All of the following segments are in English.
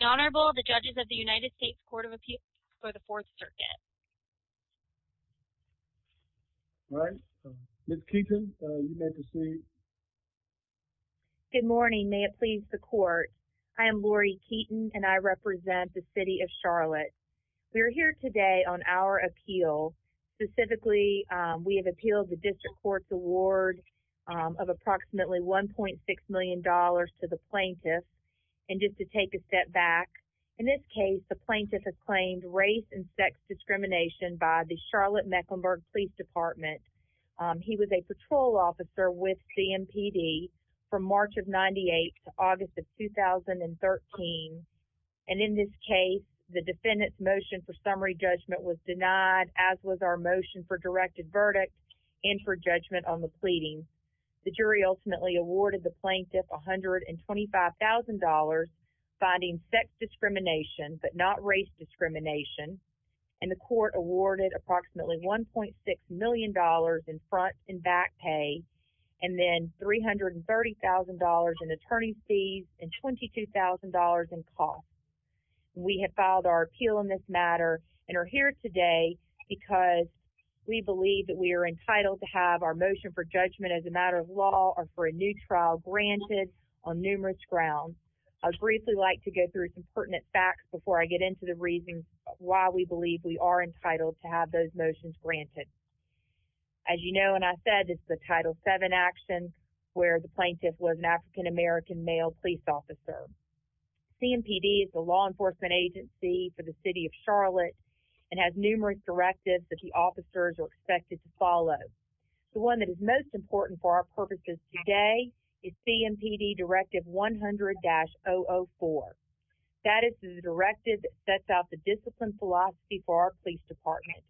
Honorable, the judges of the United States Court of Appeals for the Fourth Circuit. All right, Ms. Keaton, you may proceed. Good morning, may it please the court. I am Lori Keaton and I represent the City of Charlotte. We're here today on our appeal. Specifically, we have appealed the district court's award of approximately 1.6 million dollars to the plaintiffs and just to take a step back. In this case, the plaintiff has claimed race and sex discrimination by the Charlotte Mecklenburg Police Department. He was a patrol officer with CMPD from March of 98 to August of 2013 and in this case, the defendant's motion for summary judgment was denied as was our motion for directed verdict and for judgment on the pleading. The jury ultimately awarded the plaintiff $125,000 finding sex discrimination but not race discrimination and the court awarded approximately $1.6 million in front and back pay and then $330,000 in attorney fees and $22,000 in cost. We have filed our appeal in this matter and are here today because we believe that we are entitled to have our motion for judgment as a matter of law or for new trial granted on numerous grounds. I would briefly like to go through some pertinent facts before I get into the reasons why we believe we are entitled to have those motions granted. As you know and I said, it's the Title VII actions where the plaintiff was an African-American male police officer. CMPD is the law enforcement agency for the City of Charlotte and has numerous directives that the officers are expected to follow. The one that is most important for our is CMPD Directive 100-004. That is the directive that sets out the discipline philosophy for our police department.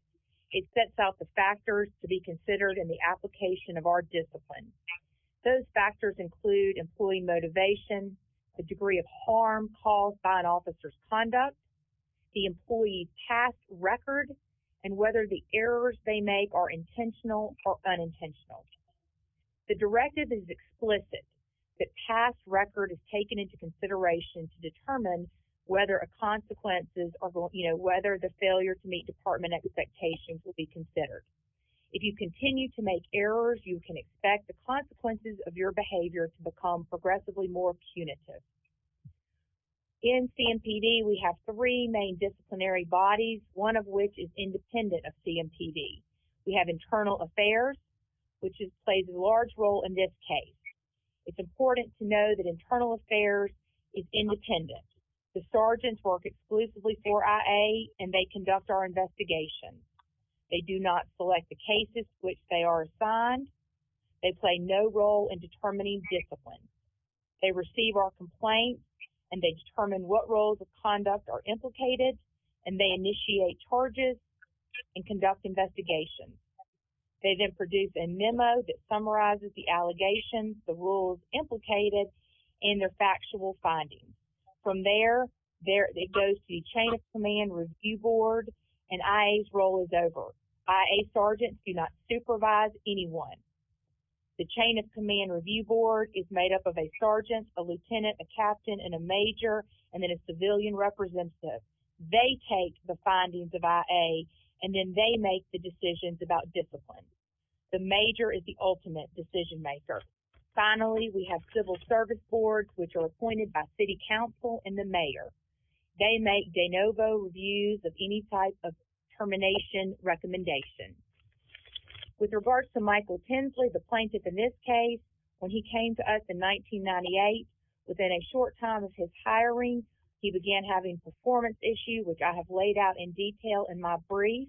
It sets out the factors to be considered in the application of our discipline. Those factors include employee motivation, the degree of harm caused by an officer's conduct, the employee's past record, and whether the errors they make are intentional or unintentional. The directive is explicit. The past record is taken into consideration to determine whether the failure to meet department expectations will be considered. If you continue to make errors, you can expect the consequences of your behavior to become progressively more punitive. In CMPD, we have three main disciplinary bodies, one of which is independent of CMPD. We have Internal Affairs, which plays a large role in this case. It's important to know that Internal Affairs is independent. The sergeants work exclusively for IA and they conduct our investigations. They do not select the cases which they are assigned. They play no role in determining discipline. They receive our complaints and they determine what charges and conduct investigations. They then produce a memo that summarizes the allegations, the rules implicated, and the factual findings. From there, it goes to the chain of command review board and IA's role is over. IA sergeants do not supervise anyone. The chain of command review board is made up of a sergeant, a lieutenant, a captain, and a major, and then a civilian representative. They take the findings of IA and then they make the decisions about discipline. The major is the ultimate decision maker. Finally, we have civil service boards, which are appointed by city council and the mayor. They make de novo reviews of any type of termination recommendation. With regards to Michael Tinsley, the plaintiff in this case, when he came to us in 1998, within a issue, which I have laid out in detail in my brief,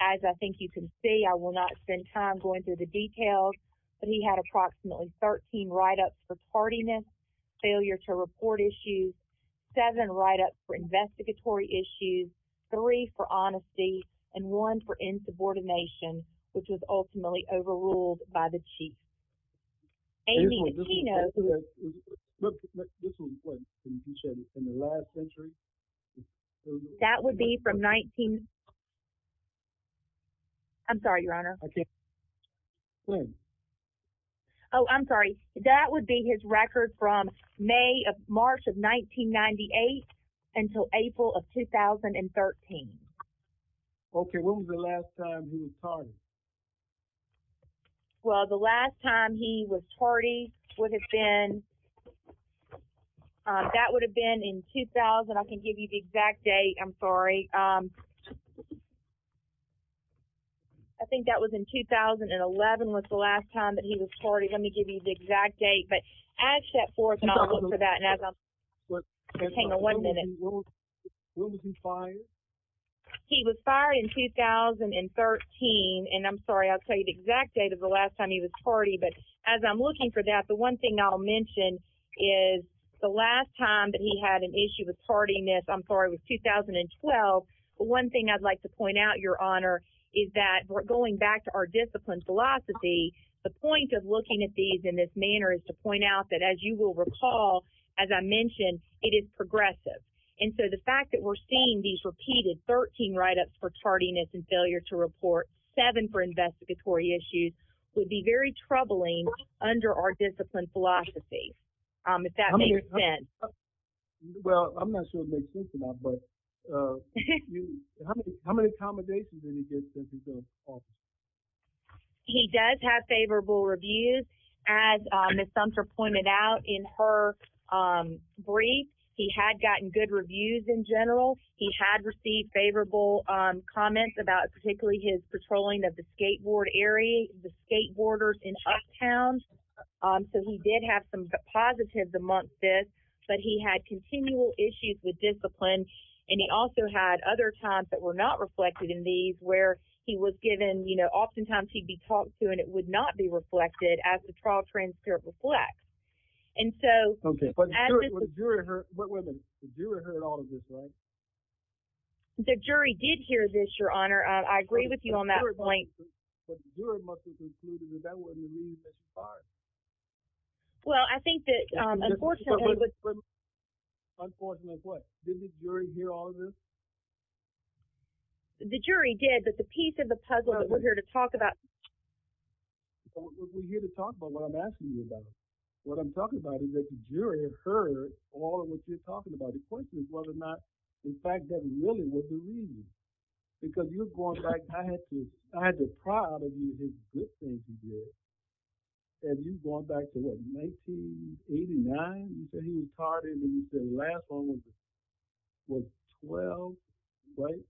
as I think you can see, I will not spend time going through the details, but he had approximately 13 write-ups for partiness, failure to report issues, seven write-ups for investigatory issues, three for honesty, and one for insubordination, which was ultimately overruled by the chief. Amy, the keynote... This was, what, in the last century? That would be from 19... I'm sorry, your honor. Oh, I'm sorry. That would be his record from May of March of 1998 until April of 2013. Okay, when was the last time he was partied? Well, the last time he was partied would have been... That would have been in 2000. I can give you the exact date. I'm sorry. I think that was in 2011 was the last time that he was partied. Let me give you the exact date, but as set forth... Hang on one minute. When was he fired? He was fired in 2013, and I'm sorry, I'll tell you the exact date of the last time he was partied, but as I'm looking for that, the one thing I'll mention is the last time that he had an issue with partiness, I'm sorry, was 2012, but one thing I'd like to point out, your honor, is that going back to our discipline philosophy, the point of looking at these in this manner is to point out that, as you will recall, as I mentioned, it is progressive. And so the fact that we're seeing these repeated 13 write-ups for partiness and failure to report, seven for investigatory issues, would be very troubling under our discipline philosophy, if that makes sense. Well, I'm not sure it makes sense or not, but how many accommodations did he get since he's gone? He does have favorable reviews. As Ms. Sumter pointed out in her brief, he had gotten good favorable comments about particularly his patrolling of the skateboard area, the skateboarders in Uptown, so he did have some positives amongst this, but he had continual issues with discipline, and he also had other times that were not reflected in these where he was given, you know, oftentimes he'd be talked to and it would not be reflected as the trial transcript reflects. And so... Okay, but did you hear all of this, right? The jury did hear this, Your Honor. I agree with you on that point. Well, I think that, unfortunately... Unfortunately, what? Did the jury hear all of this? The jury did, but the piece of the puzzle that we're here to talk about... We're here to talk about what I'm asking you about. What I'm talking about is that the jury heard all of what you're talking about. The question is whether or not the fact that really was the reason, because you're going back... I had the pride of his good things he did, and you're going back to, what, 1989, you said he was pardoned, when you said Rathbone was 12, right?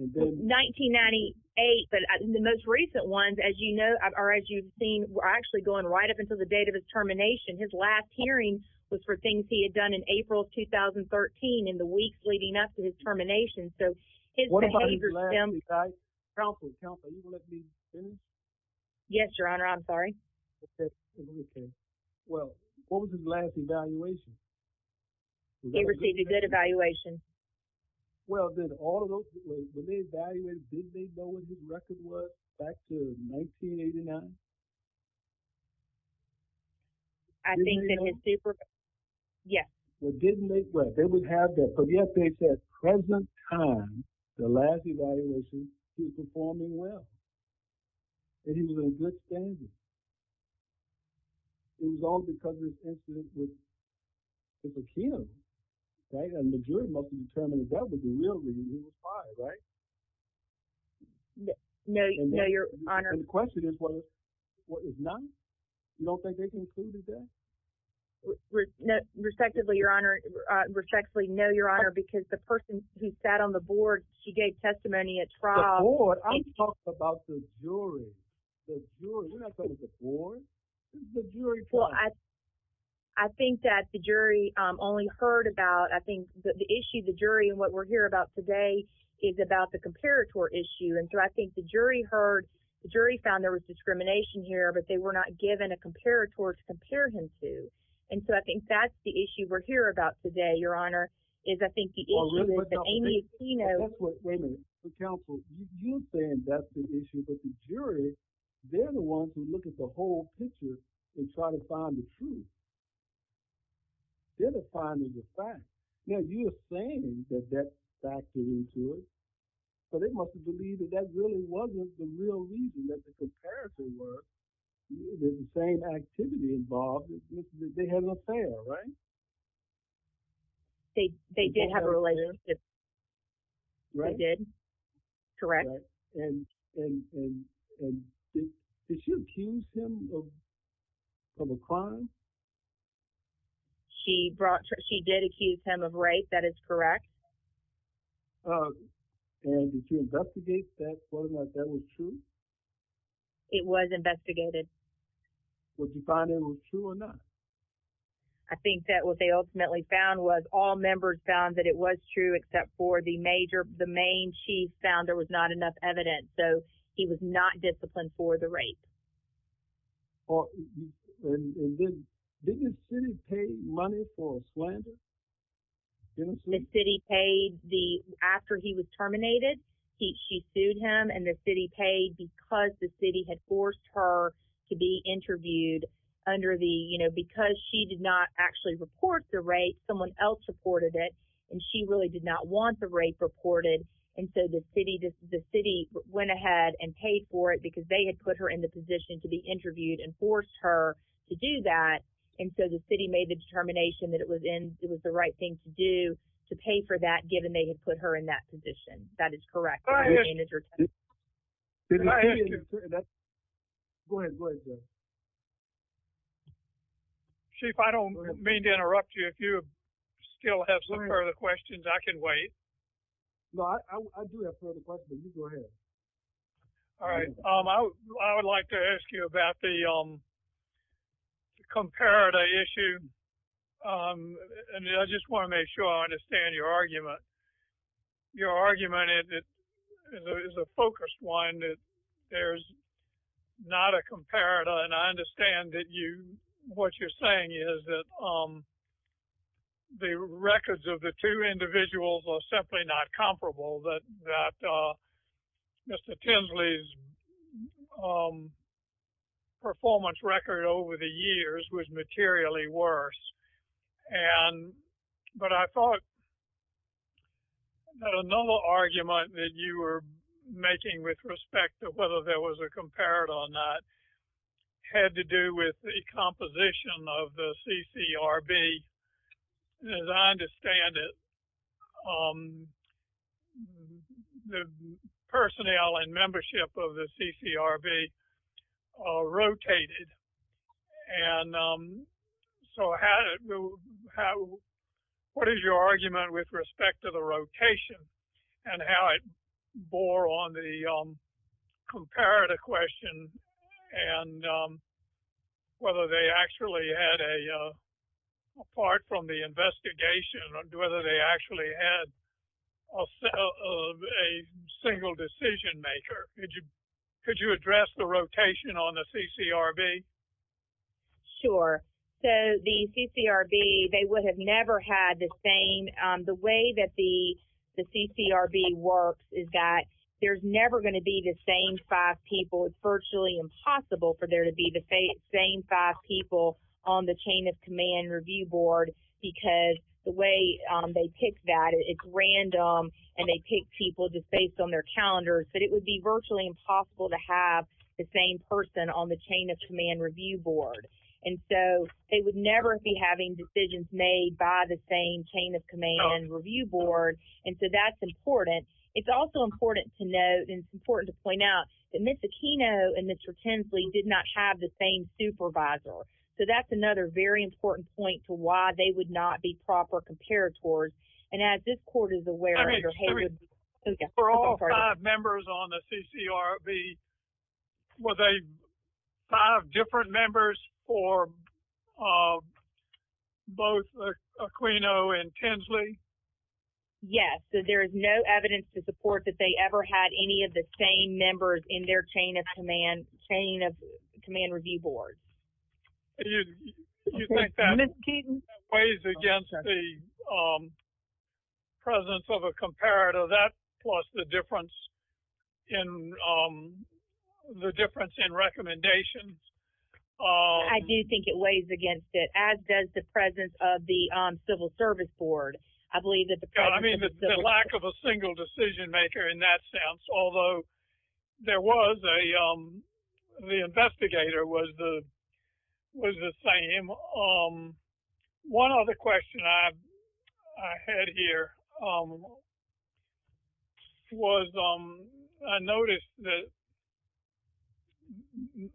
1998, but the most recent ones, as you know, were actually going right up until the date of his termination. His last hearing was for things he had done in April of 2013, in the weeks leading up to his termination, so... Yes, Your Honor, I'm sorry. Well, what was his last evaluation? He received a good evaluation. Well, did all of those... When they evaluated, did they know what his record was back to 1989? I think that his super... Yes. Well, didn't they... Well, they would have that, but yet they said, present time, the last evaluation, he was performing well, that he was in good standing. It was all because of his incident with McKim, right? And the jury, looking to determine if that was the real reason he was pardoned, right? No, Your Honor. The question is, what is not? You don't think they concluded that? Respectfully, Your Honor, because the person who sat on the board, she gave testimony at trial. The board? I'm talking about the jury. The jury, we're not talking about the board. I think that the jury only heard about, I think, the issue, the jury, and what we're here about today is about the comparator issue. And so, I think the jury heard, the jury found there was discrimination here, but they were not given a comparator to compare him to. And so, I think that's the issue we're here about today, Your Honor, is, I think, the issue is that Amy Aquino... Wait a minute. Be careful. You're saying that's the issue, but the jury, they're the ones who look at the whole picture and try to find the truth. They're the ones who did the finding of facts. Now, you're saying that that fact is true, but they must have believed that that really wasn't the real reason that the comparator worked. There's the same activity involved. They had an affair, right? They did have a relationship. Right. They did. Correct. And did she accuse him of a crime? She did accuse him of rape. That is correct. And did you investigate that, whether or not that was true? It was investigated. Was the finding true or not? I think that what they ultimately found was all members found that it was true, except for the main chief found there was not enough evidence. So, he was not disciplined for the rape. Didn't the city pay money for a slander? The city paid. After he was terminated, she sued him, and the city paid because the city had forced her to be interviewed under the... Because she did not actually report the rape, someone else reported it, and she really did not want the rape reported. And so, the city went ahead and paid for it because they had put her in the position to be interviewed and forced her to do that. And so, the city made the determination that it was the right thing to do to pay for that, given they had put her in that position. That is correct. Chief, I don't mean to interrupt you. If you still have some further questions, I can wait. No, I do have further questions. You go ahead. All right. I would like to ask you about the comparator issue. And I just want to make sure I understand your argument. Your argument is a focused one. There's not a comparator. And I understand that what you're saying is that the records of the two individuals are simply not comparable, that Mr. Tinsley's performance record over the years was materially worse. And... But I thought that another argument that you were making with respect to whether there was a comparator or not had to do with the composition of the CCRB. As I understand it, the personnel and membership of the CCRB rotated. And so, what is your argument with respect to the rotation and how it bore on the comparator question and whether they actually had a... A single decision maker? Could you address the rotation on the CCRB? Sure. So, the CCRB, they would have never had the same... The way that the CCRB works is that there's never going to be the same five people. It's virtually impossible for there to be the same five people on the chain of command review board because the way they pick that, it's random and they pick people just based on their calendars. But it would be virtually impossible to have the same person on the chain of command review board. And so, they would never be having decisions made by the same chain of command review board. And so, that's important. It's also important to point out that Mr. Aquino and Mr. Tinsley did not have the same supervisor. So, that's another very important point to why they would not be proper comparators. And as this court is aware... For all five members on the CCRB, were they five different members for both Aquino and Tinsley? Yes. So, there is no evidence to support that they ever had any of the same members in their chain of command review board. Do you think that weighs against the presence of a comparator, that plus the difference in recommendations? I do think it weighs against it, as does the presence of the civil service board. I mean, the lack of a single decision maker in that sense. Although, the investigator was the same. One other question I had here was, I noticed that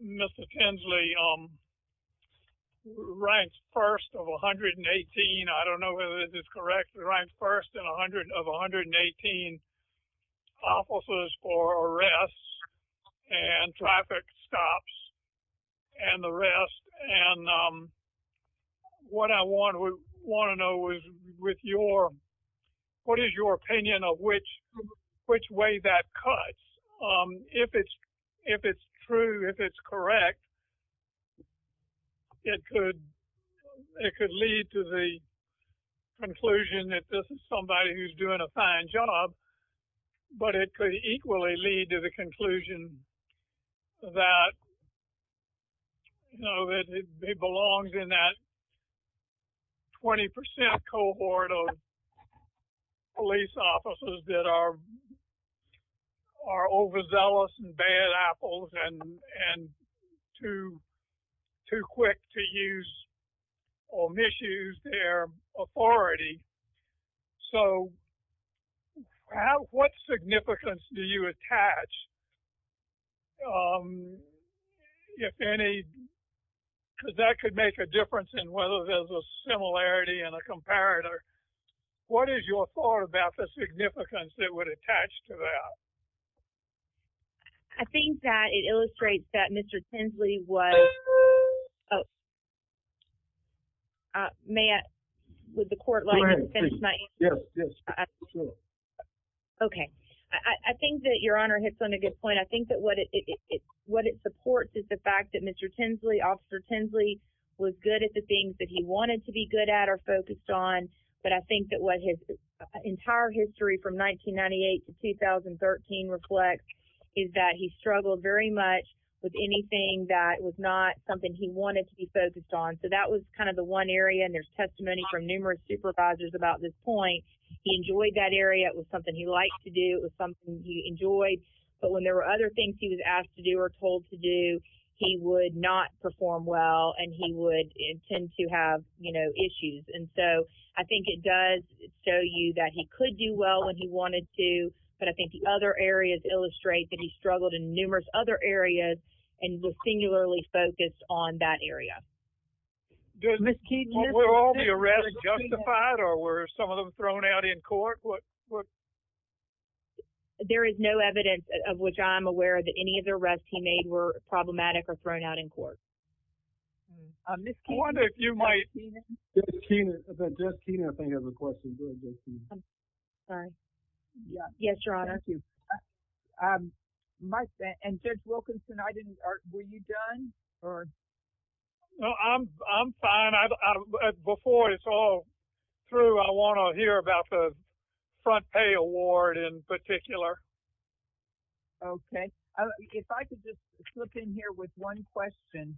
Mr. Tinsley ranks first of 118, I don't know whether this is correct, ranks first of 118 offices for arrests and traffic stops and the rest. And what I want to know is, what is your opinion of which way that cuts? If it's true, if it's correct, it could lead to the conclusion that this is somebody who's doing a fine job, but it could equally lead to the conclusion that it belongs in that 20% cohort of police officers that are overzealous and bad apples and too quick to use or misuse their authority. So, what significance do you attach? If any, that could make a difference in whether there's a similarity and a comparator. What is your thought about the significance that would attach to that? I think that it illustrates that Mr. Tinsley was a good officer. I think that what it supports is the fact that Mr. Tinsley, Officer Tinsley, was good at the things that he wanted to be good at or focused on, but I think that what his entire history from 1998 to 2013 reflects is that he struggled very much with anything that was not something he wanted to be focused on. So, that was kind of the one area, and there's testimony from numerous supervisors about this point. He enjoyed that area. It was something he liked to do. It was something he enjoyed, but when there were other things he was asked to do or told to do, he would not perform well, and he would tend to have, you know, issues. And so, I think it does show you that he could do well when he wanted to, but I think the other areas illustrate that he struggled in numerous other areas, and he was singularly focused on that area. Were all the arrests justified, or were some of them thrown out in court? There is no evidence of which I'm aware of that any of the arrests he made were problematic or thrown out in court. Okay. I wonder if you might… Ms. Keenan? Ms. Keenan, I think Jeff Keenan has a question. Go ahead, Jeff Keenan. Sorry. Yes, Your Honor. Thank you. And, Jeff Wilkinson, were you done? No, I'm fine. Before it's all through, I want to hear about the front pay award in particular. Okay. If I could just slip in here with one question.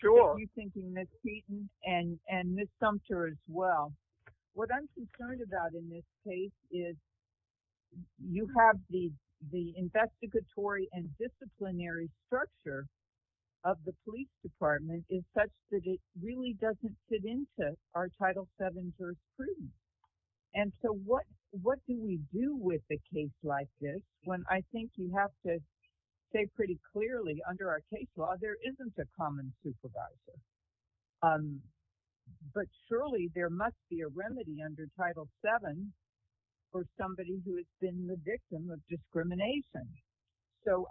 Sure. You're thinking Ms. Keenan and Ms. Sumter as well. What I'm concerned about in this case is you have the investigatory and disciplinary structure of the police department is such that it really doesn't fit into our Title VII first prudence. And so, what do we do with the like this when I think you have to say pretty clearly under our case law, there isn't a common supervisor. But surely, there must be a remedy under Title VII for somebody who has been the victim of discrimination. So,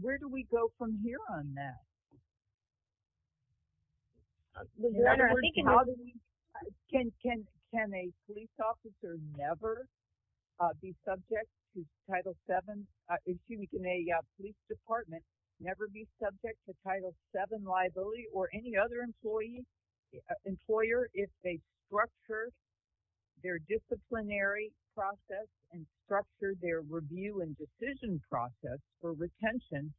where do we go from here on that? Your Honor, I think in all of these, can a police officer never be subject to Title VII, excuse me, can a police department never be subject to Title VII liability or any other employer if they structure their disciplinary process and structure their review and decision process for retention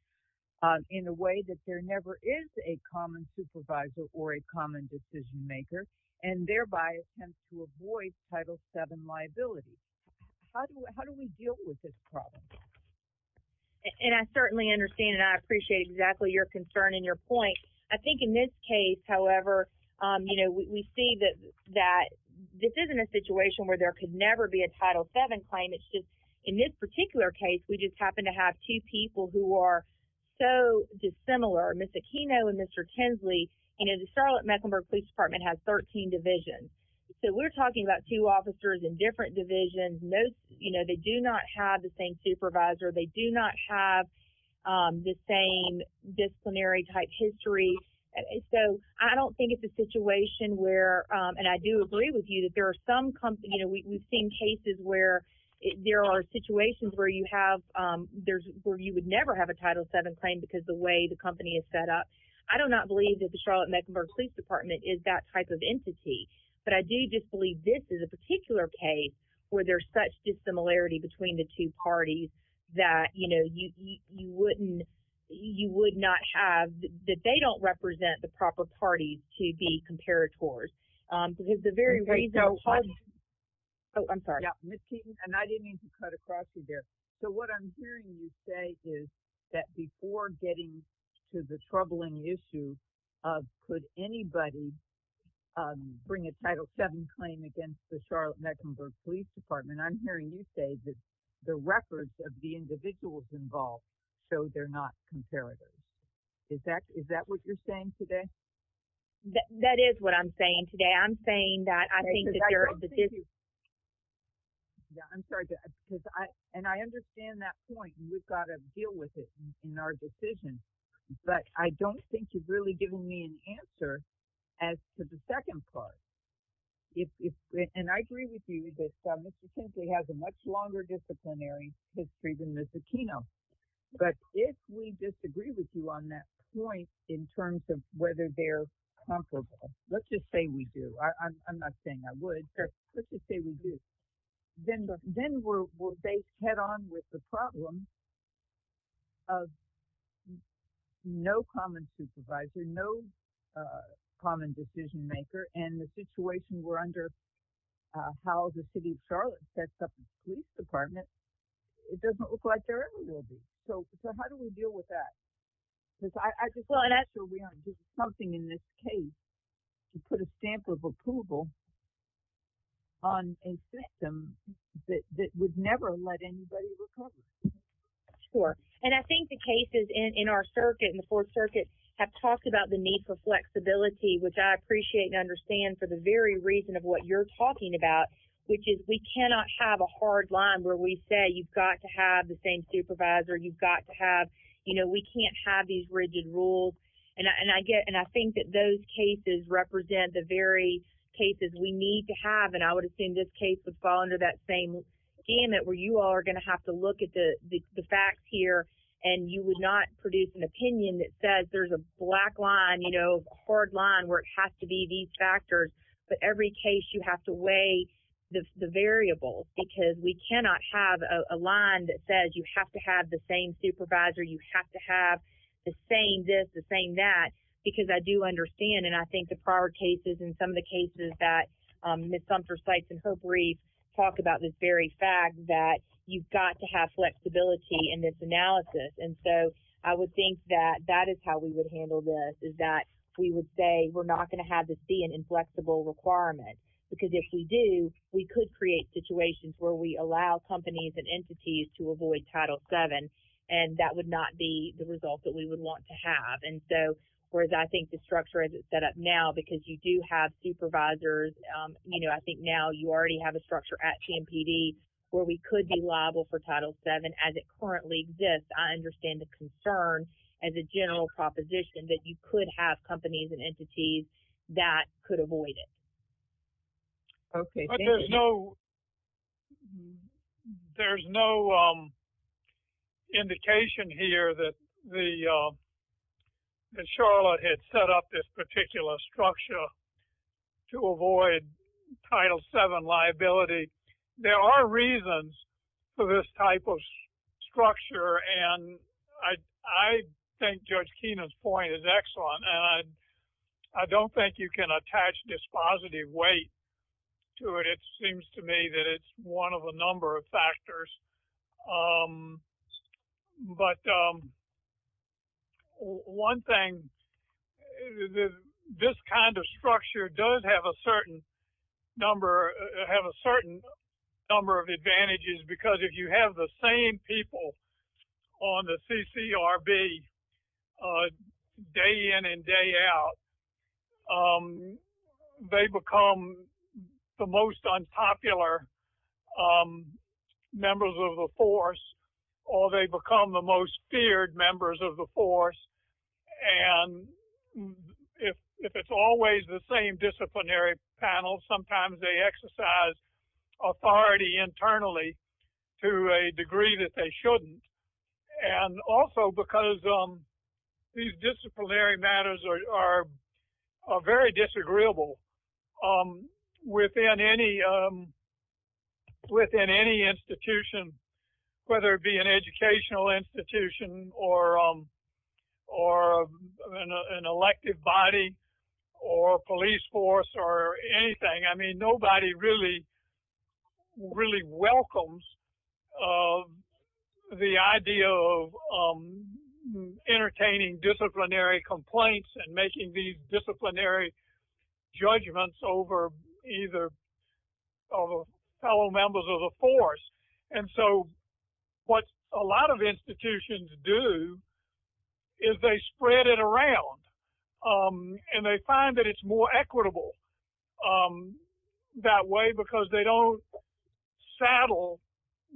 in a way that there never is a common supervisor or a common decision maker and thereby attempts to avoid Title VII liability? How do we deal with this problem? And I certainly understand and I appreciate exactly your concern and your point. I think in this case, however, you know, we see that this isn't a situation where there could never be a Title VII claim. It's just in this particular case, we just happen to have two people who are so dissimilar, Mr. Kino and Mr. Tinsley, and the Charlotte-Mecklenburg Police Department has 13 divisions. So, we're talking about two officers in different divisions. Most, you know, they do not have the same supervisor. They do not have the same disciplinary type history. So, I don't think it's a situation where and I do agree with you that there are some, you know, we've seen cases where there are situations where you have, there's where you would never have a Title VII claim because the way the company is set up. I do not believe that the Charlotte-Mecklenburg Police Department is that type of entity, but I do just believe this is a particular case where there's such dissimilarity between the two parties that, you know, you wouldn't, you would not have, that they don't represent the proper parties to be compared towards. Because the very reason, oh, I'm sorry. Yeah, Ms. Tinsley, and I didn't mean to cut across you there. So, what I'm hearing you say is that before getting to the troubling issue of could anybody bring a Title VII claim against the Charlotte-Mecklenburg Police Department, I'm hearing you say that the records of the individuals involved show they're not comparative. Is that what you're saying today? That is what I'm saying today. I'm saying that I think that there is a Yeah, I'm sorry. And I understand that point. We've got to deal with it in our decision. But I don't think you've really given me an answer as to the second part. And I agree with you that Mr. Tinsley has a much longer disciplinary history than Ms. Aquino. But if we disagree with you on that point, in terms of whether they're comparable, let's just say we do. I'm not saying I would. Let's just say we do. Then we'll head on with the problem of no common supervisor, no common decision maker. And the situation we're under, how the city of Charlotte sets up a police department, it doesn't look like there ever will be. So how do we deal with that? Because I just feel we have to do something in this case to put a stamp of approval on a system that would never let anybody recover. Sure. And I think the cases in our circuit and the Fourth Circuit have talked about the need for flexibility, which I appreciate and understand for the very reason of what you're talking about, which is we cannot have a hard line where we say you've got to have the same supervisor, you've got to have, you know, we can't have these rigid rules. And I get and I think that those cases represent the very cases we need to have. And I would assume this case would fall into that same gamut where you all are going to have to look at the facts here. And you would not produce an opinion that says there's a black line, you know, hard line where it has to be these factors. But every case you have to weigh the variables because we cannot have a line that says you have to have the same supervisor, you have to have the same this, the same that, because I do understand and I think the prior cases and some of the cases that Ms. Humphrey talked about this very fact that you've got to have flexibility in this analysis. And so I would think that that is how we would is that we would say we're not going to have this be an inflexible requirement, because if we do, we could create situations where we allow companies and entities to avoid Title VII and that would not be the result that we would want to have. And so, whereas I think the structure as it's set up now, because you do have supervisors, you know, I think now you already have a structure at CMPD where we could be liable for Title VII as it currently exists. I understand the concern and the general proposition that you could have companies and entities that could avoid it. Okay. But there's no, there's no indication here that Charlotte had set up this particular structure to avoid Title VII liability. There are reasons for this type of structure and I think Judge Keenan's point is excellent. And I don't think you can attach this positive weight to it. It seems to me that it's one of a number of factors. But one thing, this kind of structure does have a certain number, have a certain number of advantages, because if you have the same people on the CCRB day in and day out, they become the most unpopular members of the force, or they become the most feared members of the force. And if it's always the same disciplinary panel, sometimes they exercise authority internally to a degree that they shouldn't. And also because these disciplinary matters are very disagreeable within any institution, whether it be an educational institution or an elected body or police force or anything. I mean, nobody really welcomes the idea of entertaining disciplinary complaints and making these disciplinary judgments over either fellow members of the force. And so what a lot of institutions do is they spread it around and they find that it's more equitable that way because they don't saddle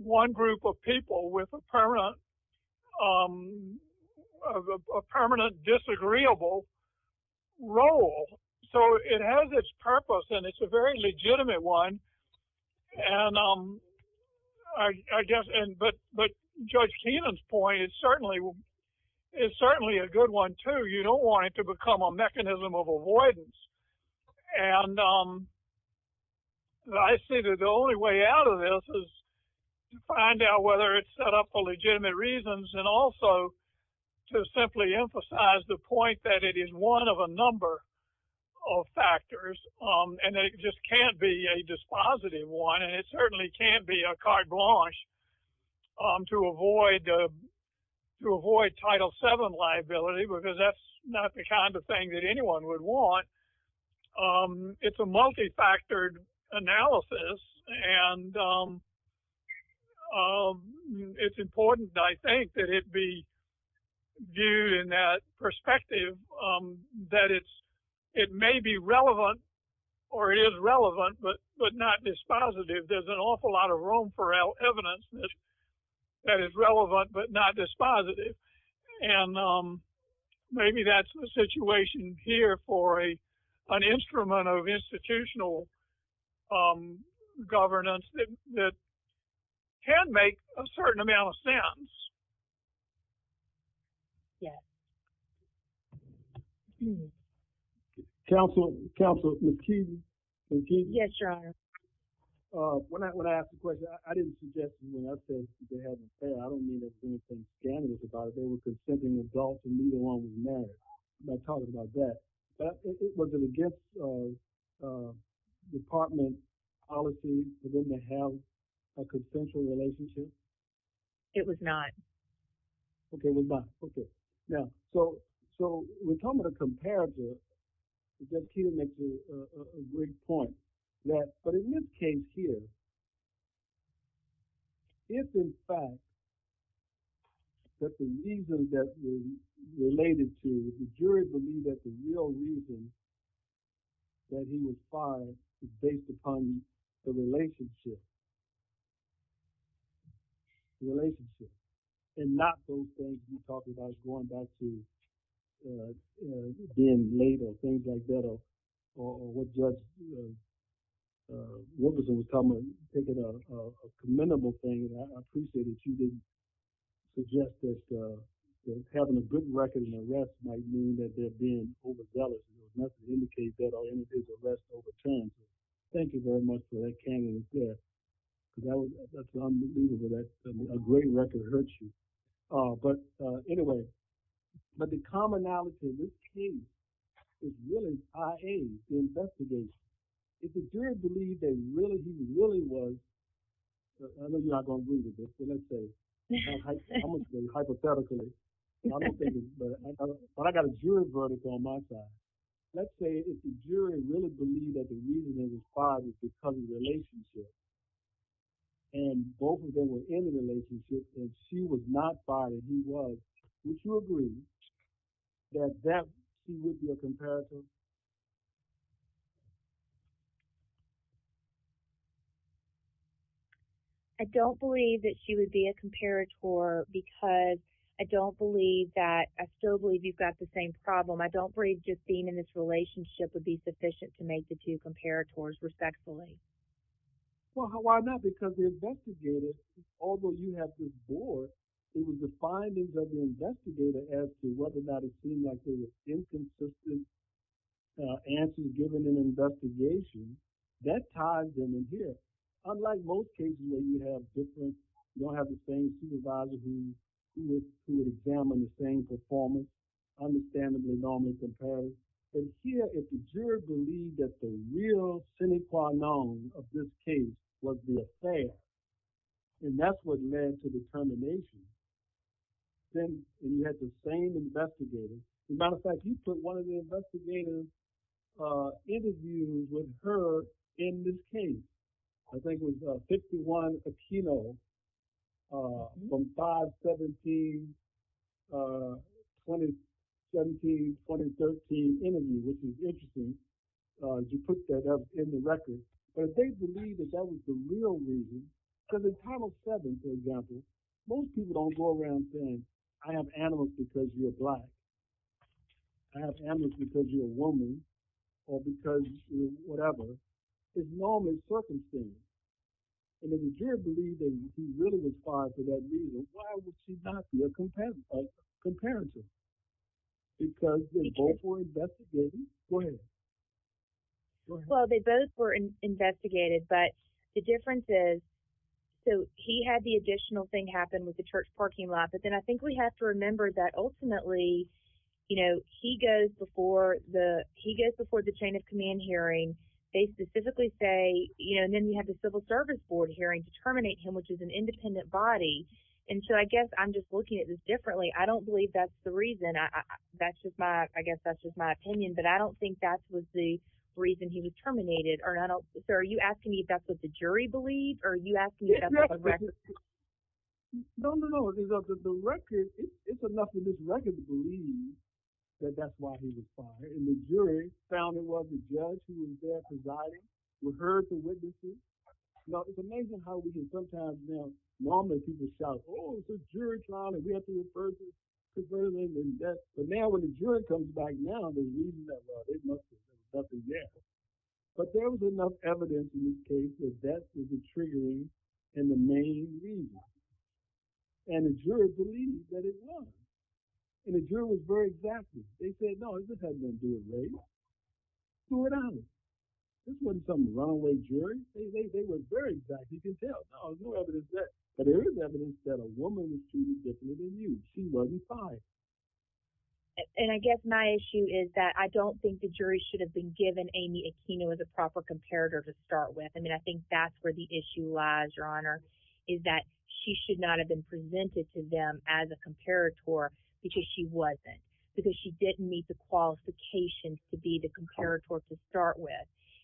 one group of people with a permanent disagreeable role. So it has its purpose and it's a very legitimate one. But Judge Keenan's point is certainly a good one too. You don't want it to become a mechanism of avoidance. And I see that the only way out of this is to find out whether it's set up for legitimate reasons and also to simply emphasize the point that it is one of a number of factors and that it just can't be a dispositive one. And it certainly can't be a carte blanche to avoid Title VII liability, because that's not the kind of thing that anyone would want. It's a multifactored analysis and it's important, I think, that it be viewed in that perspective that it may be relevant or is relevant, but not dispositive. There's an awful lot of room for evidence that is relevant but not dispositive. And maybe that's the situation here for an instrument of institutional um governance that can make a certain amount of sense. Yeah. Counselor, Counselor, Ms. Keenan. Yes, Your Honor. When I asked the question, I didn't suggest, I mean, I said they haven't failed. I don't mean there's anything scandalous about it. They were consenting adults and neither one was married. I'm not talking about that. It wasn't a department policy for them to have a consensual relationship. It was not. Okay, it was not. Okay. Now, so we're talking about a comparison. Ms. Keenan makes a great point. But in this case here, it's in fact that the reason that we related to, the jury believed that the real reason that he was fired is based upon the relationship. Relationship. And not those things we talked about going back to being laid or things like that or what just, what was in common, taking a commendable thing. And I appreciate that you didn't suggest that having a good record in arrest might mean that they're being overzealous. Nothing indicates that our individual arrests are over chance. Thank you very much for that, Keenan. That's unbelievable. That's a great record of hurt you. But anyway, but the commonality in this case is really, I.A., the investigation. If the jury believed that really he really was, I'm not going to read it, but let's say hypothetically, and I'm going to say this, but I got a jury verdict on that guy. Let's say if the jury really believed that the reason he was fired was because of the relationship and both of them were in a relationship and she was not fired, he was, would you agree that that would be a comparison? I don't believe that she would be a comparator because I don't believe that, I still believe you've got the same problem. I don't believe just being in this relationship would be sufficient to make the two comparators respectfully. Well, why not? Because the investigator, although you have this board, it was the findings of the investigator as to whether or not it seemed like there was inconsistent answers given in an investigation, that ties in here. Unlike most cases where you have different, you don't have the same supervisor who would examine the same performance, understandably normal comparator. But here, if the jury believed that the real sine qua non of this case was the affair, and that's what led to determination, then you had the same investigator. As a matter of fact, you put one of the investigators interviewed with her in this case. I think it was 51 Aquino from 5-17-2017-2013 interview, which is interesting. You put that up in the record. But if they believe that that was the reason, because in Title VII, for example, most people don't go around saying, I have animals because you're black. I have animals because you're a woman, or because you're whatever. It's normally circumcised. And if the jury believed that she really was part of that reason, why would she not be a comparator? Because they both were investigated. But the difference is, so he had the additional thing happen with the church parking lot. But then I think we have to remember that ultimately, he goes before the chain of command hearing. They specifically say, and then you have the Civil Service Board hearing to terminate him, which is an independent body. And so I guess I'm just looking at this differently. I don't believe that's the reason. I guess that's just my opinion. But I don't think that was the terminated. So are you asking me if that's what the jury believed? Or are you asking me about the record? No, no, no. The record, it's enough for this record to believe that that's why he was fired. And the jury found it wasn't the judge who was there presiding, who heard the witnesses. Now, it's amazing how we can sometimes, you know, normally people shout, oh, it's a jury trial, and we have to refer them. But now when the jury comes back now, the reason that, well, it must have been something else. But there was enough evidence in this case that that was the triggering and the main reason. And the jury believed that it was. And the jury was very exacting. They said, no, this hasn't been doing very well. To be honest, this wasn't some runaway jury. They were very exact. You can tell, no, no evidence there. But there is evidence that a woman was treated differently than you. She wasn't fired. And I guess my issue is that I don't think the jury should have been given Amy Aquino as a proper comparator to start with. And I think that's where the issue lies, Your Honor, is that she should not have been presented to them as a comparator because she wasn't, because she didn't meet the qualifications to be the comparator to start with.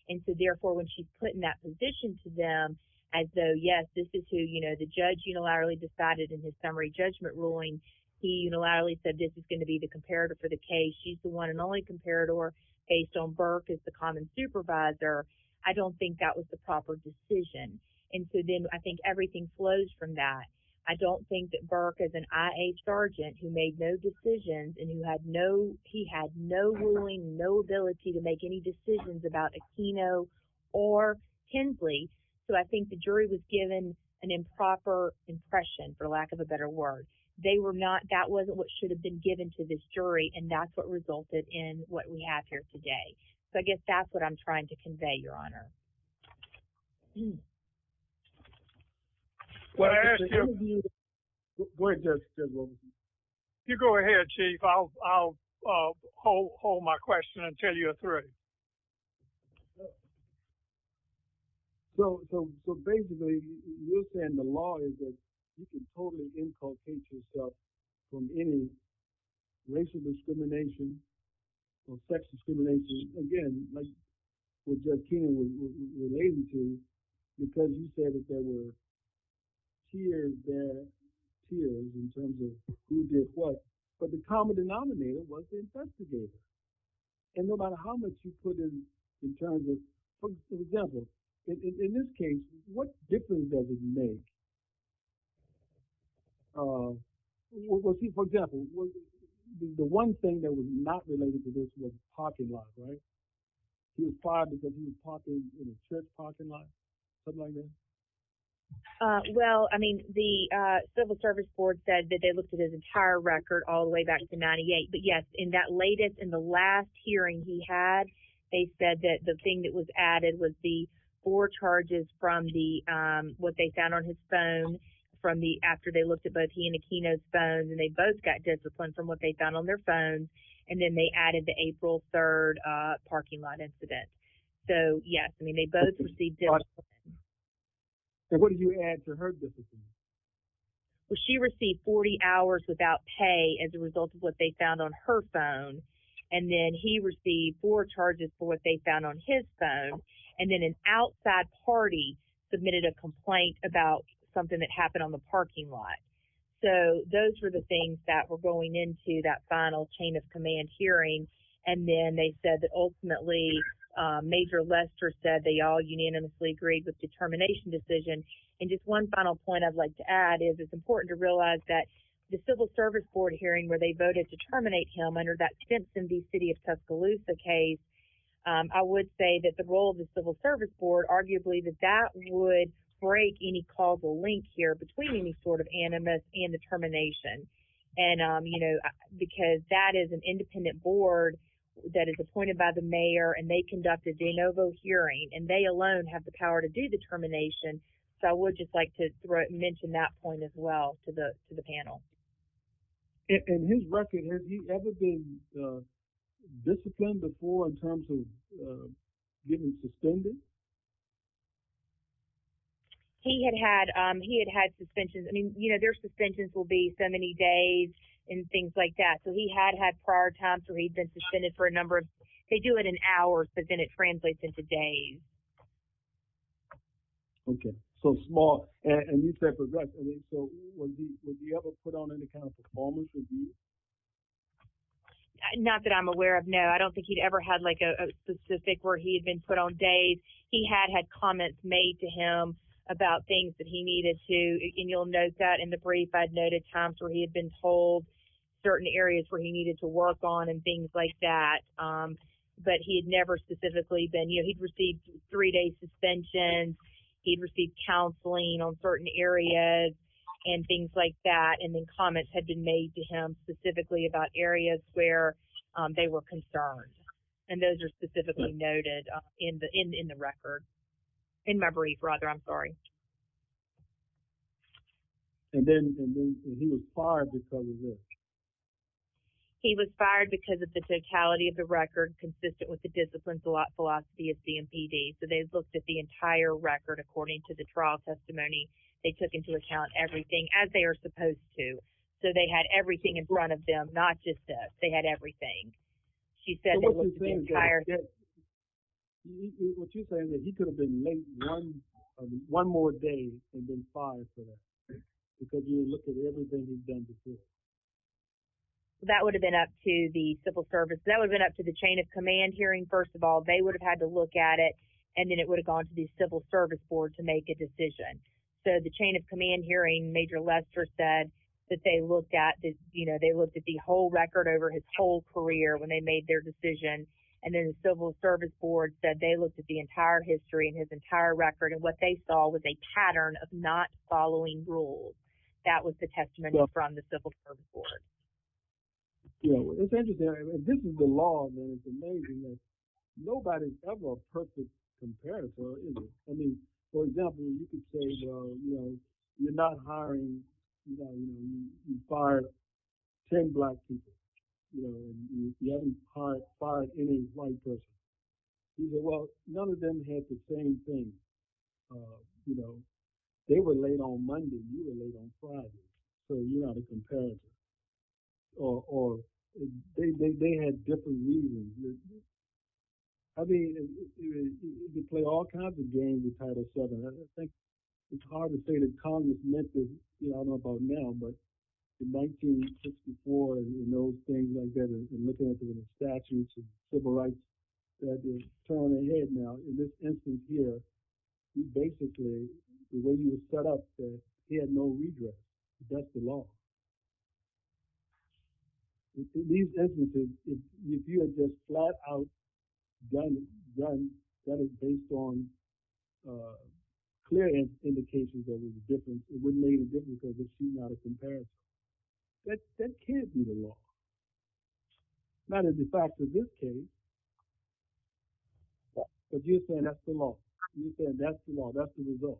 And so, therefore, when she's put in that position to them as though, yes, this is who, you know, the judge unilaterally decided in his summary ruling, he unilaterally said, this is going to be the comparator for the case. She's the one and only comparator based on Burke as the common supervisor. I don't think that was the proper decision. And so then I think everything flows from that. I don't think that Burke as an I.A. sergeant who made no decisions and who had no, he had no ruling, no ability to make any decisions about Aquino or Hensley. So I think the jury was given an improper impression, for lack of a better word. They were not, that wasn't what should have been given to this jury. And that's what resulted in what we have here today. So I guess that's what I'm trying to convey, Your Honor. When I ask you, you go ahead, Chief. I'll hold my question until you're through. So, so, so basically you're saying the law is that you can totally inculcate yourself from any racial discrimination or sex discrimination, again, like with Jeff Keenan was able to because he said that there were tiers there, tiers in terms of who did what. But the common denominator was the infestigators. And no matter how much you put in, in terms of, for example, in this case, what difference does it make? Well, Chief, for example, the one thing that was not related to this was parking lot, right? He was fired because he was parked in a church parking lot, something like that? Uh, well, I mean, the civil service board said that they looked at his entire record all the way back to 98. But yes, in that latest, in the last hearing he had, they said that the thing that was added was the four charges from the, um, what they found on his phone from the, after they looked at both he and Aquino's phones, and they both got disciplined from what they found on their phones. And then they added the April 3rd, uh, parking lot incident. So yes, I mean, they both received discipline. So what did you add to her discipline? Well, she received 40 hours without pay as a result of what they found on her phone. And then he received four charges for what they found on his phone. And then an outside party submitted a complaint about something that happened on the parking lot. So those were the things that were going into that final chain of command hearing. And then they said that Major Lester said they all unanimously agreed with the termination decision. And just one final point I'd like to add is it's important to realize that the civil service board hearing where they voted to terminate him under that Simpson v. City of Tuscaloosa case, I would say that the role of the civil service board, arguably that that would break any causal link here between any sort of animus and determination. And, um, you know, because that is an independent board that is appointed by the mayor and they conducted the ANOVO hearing and they alone have the power to do the termination. So I would just like to mention that point as well to the panel. And his record, has he ever been disciplined before in terms of getting suspended? He had had, um, he had had suspensions. I mean, you know, their suspensions will be so many days and things like that. So he had had prior times where he'd been suspended for a number of, they do it in hours, but then it translates into days. Okay. So small and these type of records. So would he ever put on any kind of performance? Not that I'm aware of. No, I don't think he'd ever had like a specific where he'd been put on days. He had had comments made to him about things that he needed to, and you'll note that in the brief, I'd noted times where he had been told certain areas where he needed to work on and things like that. Um, but he had never specifically been, you know, he'd received three days suspension. He'd received counseling on certain areas and things like that. And then comments had been made to him specifically about areas where they were concerned. And those are specifically noted in the, in, in the record in memory, brother. I'm sorry. And then he was fired. He was fired because of the totality of the record, consistent with the discipline philosophy of CNPD. So they've looked at the entire record, according to the trial testimony, they took into account everything as they are supposed to. So they had everything in front of them, not just that they had everything. So what you're saying is he could have been made one more day and been fired because you look at everything he's done before. That would have been up to the civil service. That would have been up to the chain of command hearing. First of all, they would have had to look at it and then it would have gone to the civil service board to make a decision. So the chain of command hearing major Lester said that they looked at this, you know, they looked at the whole record over his career when they made their decision. And then the civil service board said they looked at the entire history and his entire record. And what they saw was a pattern of not following rules. That was the testimony from the civil service board. Yeah. Well, it's interesting. This is the law. It's amazing. Nobody's ever a perfect comparison. I mean, for example, you could say, you know, you're not hiring, you know, you fired 10 black people. You know, you haven't fired any white person. You know, well, none of them had the same thing. You know, they were late on Monday, you were late on Friday. So you're not a comparison. Or they had different reasons. I mean, you could play all kinds of games with Title VII. I think it's hard to say that Congress you know, I don't know about now, but in 1964, you know, things like that and looking at the statutes and civil rights that were thrown ahead. Now, in this instance here, basically, the way you were set up, he had no regrets. That's the law. These instances, if you have this flat out done, that is based on clear indications that there's a difference. It wouldn't make a difference if it's not a comparison. That can't be the law. Not in the fact of this case. But you're saying that's the law. You're saying that's the law. That's the result.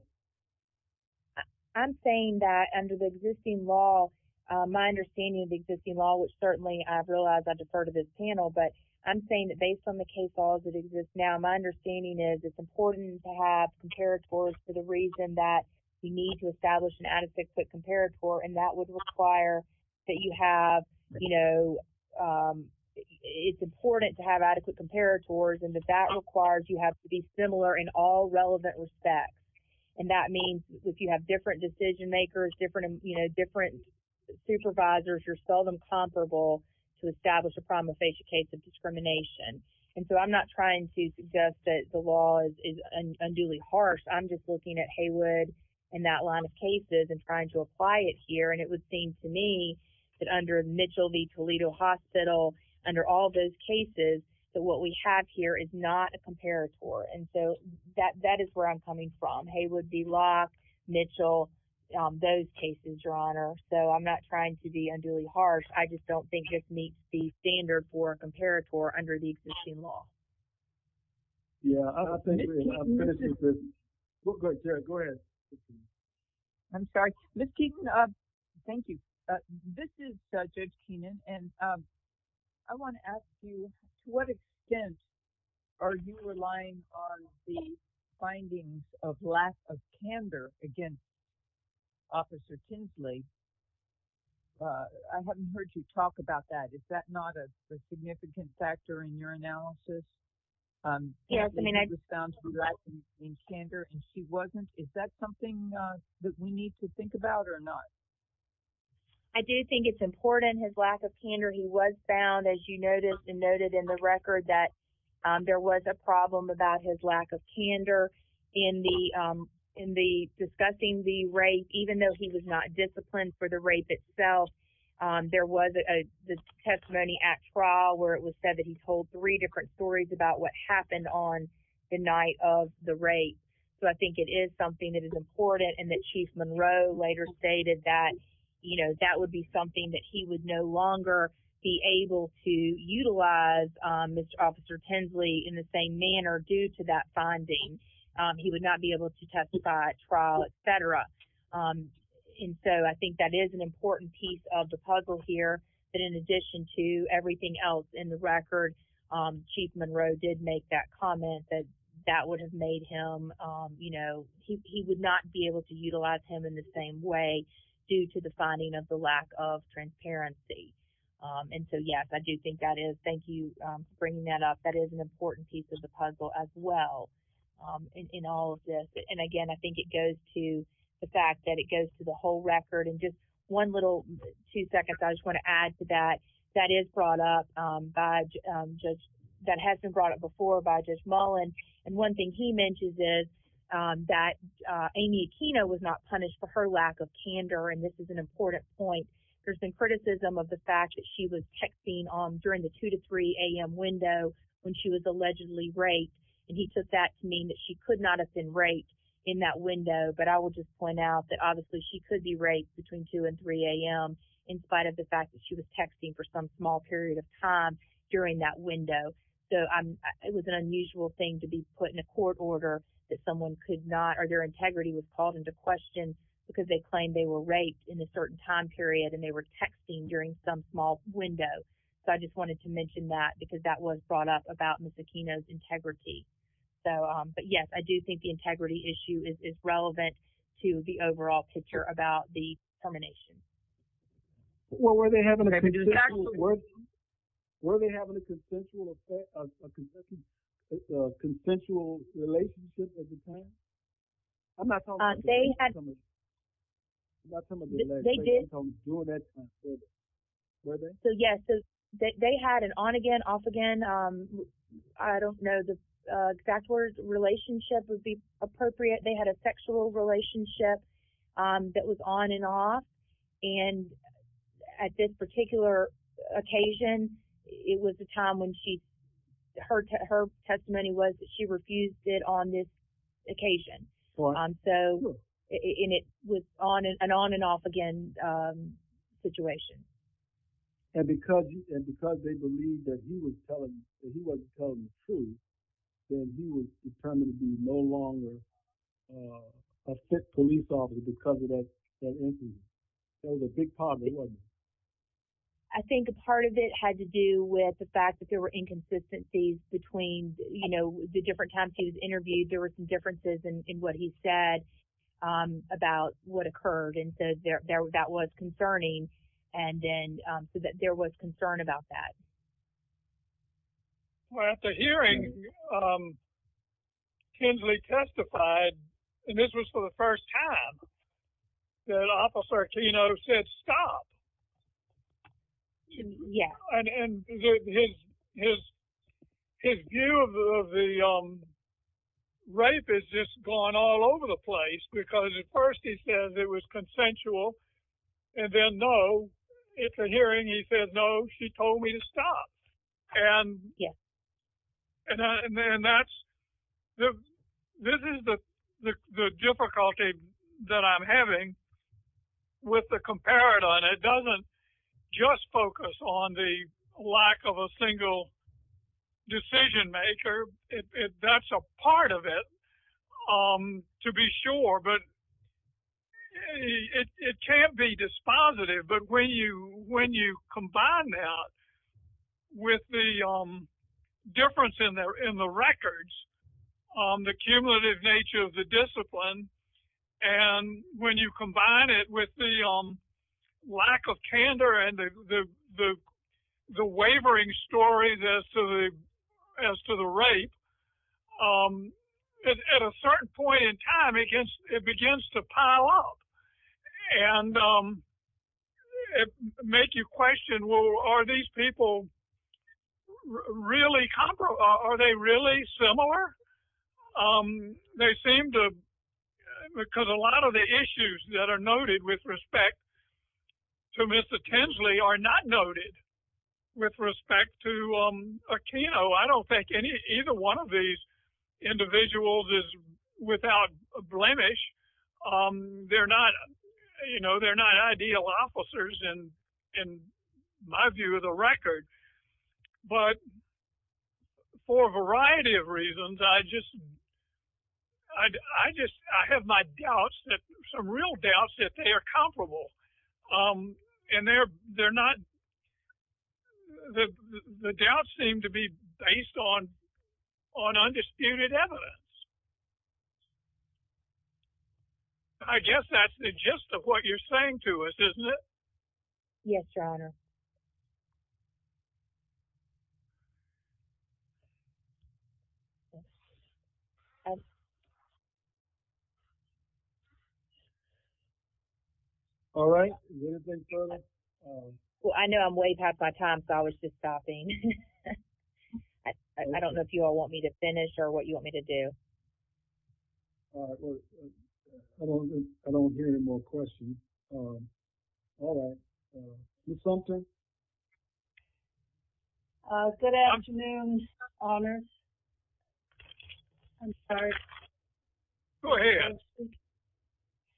I'm saying that under the existing law, my understanding of the existing law, which certainly I've realized under part of this panel, but I'm saying that based on the case laws that exist now, my understanding is it's important to have comparators for the reason that you need to establish an adequate comparator. And that would require that you have, you know, it's important to have adequate comparators. And if that requires, you have to be similar in all relevant respects. And that means if you have different decision makers, different, you know, different supervisors, you're seldom comparable to establish a prima facie case of discrimination. And so I'm not trying to suggest that the law is unduly harsh. I'm just looking at Haywood and that line of cases and trying to apply it here. And it would seem to me that under Mitchell v. Toledo Hospital, under all those cases, that what we have here is not a comparator. And so that is where I'm coming from. Haywood v. Locke, Mitchell, those cases, Your Honor. So I'm not trying to be unduly harsh. I just don't think it meets the standard for a existing law. Yeah, I appreciate it. Go ahead. I'm sorry. Ms. Keeton, thank you. This is Judge Keenan. And I want to ask you, to what extent are you relying on the findings of lack of candor against Officer Tinsley? I haven't heard you talk about that. Is that not a significant factor in your analysis? Yes. I mean, I just found some lack of candor and she wasn't. Is that something that we need to think about or not? I do think it's important, his lack of candor. He was found, as you noticed and noted in the record, that there was a problem about his lack of candor in the discussing the rape, even though he was not disciplined for the rape itself. There was a testimony at trial where it was said that he told three different stories about what happened on the night of the rape. So I think it is something that is important and that Chief Monroe later stated that, you know, that would be something that he would no longer be able to utilize, Mr. Officer Tinsley, in the same manner due to that finding. He would not be able to of the puzzle here. But in addition to everything else in the record, Chief Monroe did make that comment that that would have made him, you know, he would not be able to utilize him in the same way due to the finding of the lack of transparency. And so, yes, I do think that is, thank you for bringing that up. That is an important piece of the puzzle as well in all of this. And again, I think it goes to the fact that it goes to the whole record. And just one little, two seconds, I just want to add to that. That is brought up by Judge, that has been brought up before by Judge Mullen. And one thing he mentions is that Amy Aquino was not punished for her lack of candor. And this is an important point. There's been criticism of the fact that she was texting on during the 2 to 3 a.m. window when she was allegedly raped. And he took that to mean that she could not have been raped in that window. But I will just point out that obviously she could be raped between 2 and 3 a.m. in spite of the fact that she was texting for some small period of time during that window. So, it was an unusual thing to be put in a court order that someone could not, or their integrity was called into question because they claimed they were raped in a certain time period and they were texting during some small window. So, I just wanted to mention that because that was brought up about Ms. Aquino's integrity. So, but yes, I do think the integrity issue is relevant to the overall picture about the termination. Well, were they having a consensual relationship at the time? I'm not talking about the last time. I'm talking about during that time period. Were they? So, yes. They had an on-again, off-again, I don't know the exact word, relationship would be and at this particular occasion, it was the time when she, her testimony was that she refused it on this occasion. So, and it was an on and off again situation. And because they believed that he was telling, he wasn't telling the truth, then he was determined to be no longer a police officer because of that incident. So, it was a big part of it. I think a part of it had to do with the fact that there were inconsistencies between, you know, the different times he was interviewed. There were some differences in what he said about what occurred and so that was concerning. And then, so that there was concern about that. Well, at the hearing, Kinsley testified and this was for the first time that Officer Aquino said, stop. Yeah. And his view of the rape has just gone all over the place because at first he said it was consensual and then, no, at the hearing he said, no, she told me to stop. And that's, this is the difficulty that I'm having with the comparator and it doesn't just focus on the of a single decision maker. That's a part of it, to be sure, but it can't be dispositive. But when you combine that with the difference in the records, the cumulative nature of the story as to the rape, at a certain point in time, it begins to pile up and make you question, well, are these people really comparable? Are they really similar? They seem to, because a lot of the issues that are noted with respect to Mr. Kinsley are not noted with respect to Aquino. I don't think either one of these individuals is without a blemish. They're not, you know, they're not ideal officers in my view of the record. But for a variety of reasons, I just, I just, I have my doubts that, some real doubts that they are comparable. And they're, they're not, the doubts seem to be based on undisputed evidence. I guess that's the gist of what you're saying to us, isn't it? Yes, Your Honor. All right. Well, I know I'm way past my time, so I was just stopping. I don't know if you all want me to finish or what you want me to do. All right. I don't hear any more questions. All right. Ms. Sumter? Good afternoon, Your Honor. I'm sorry. Go ahead.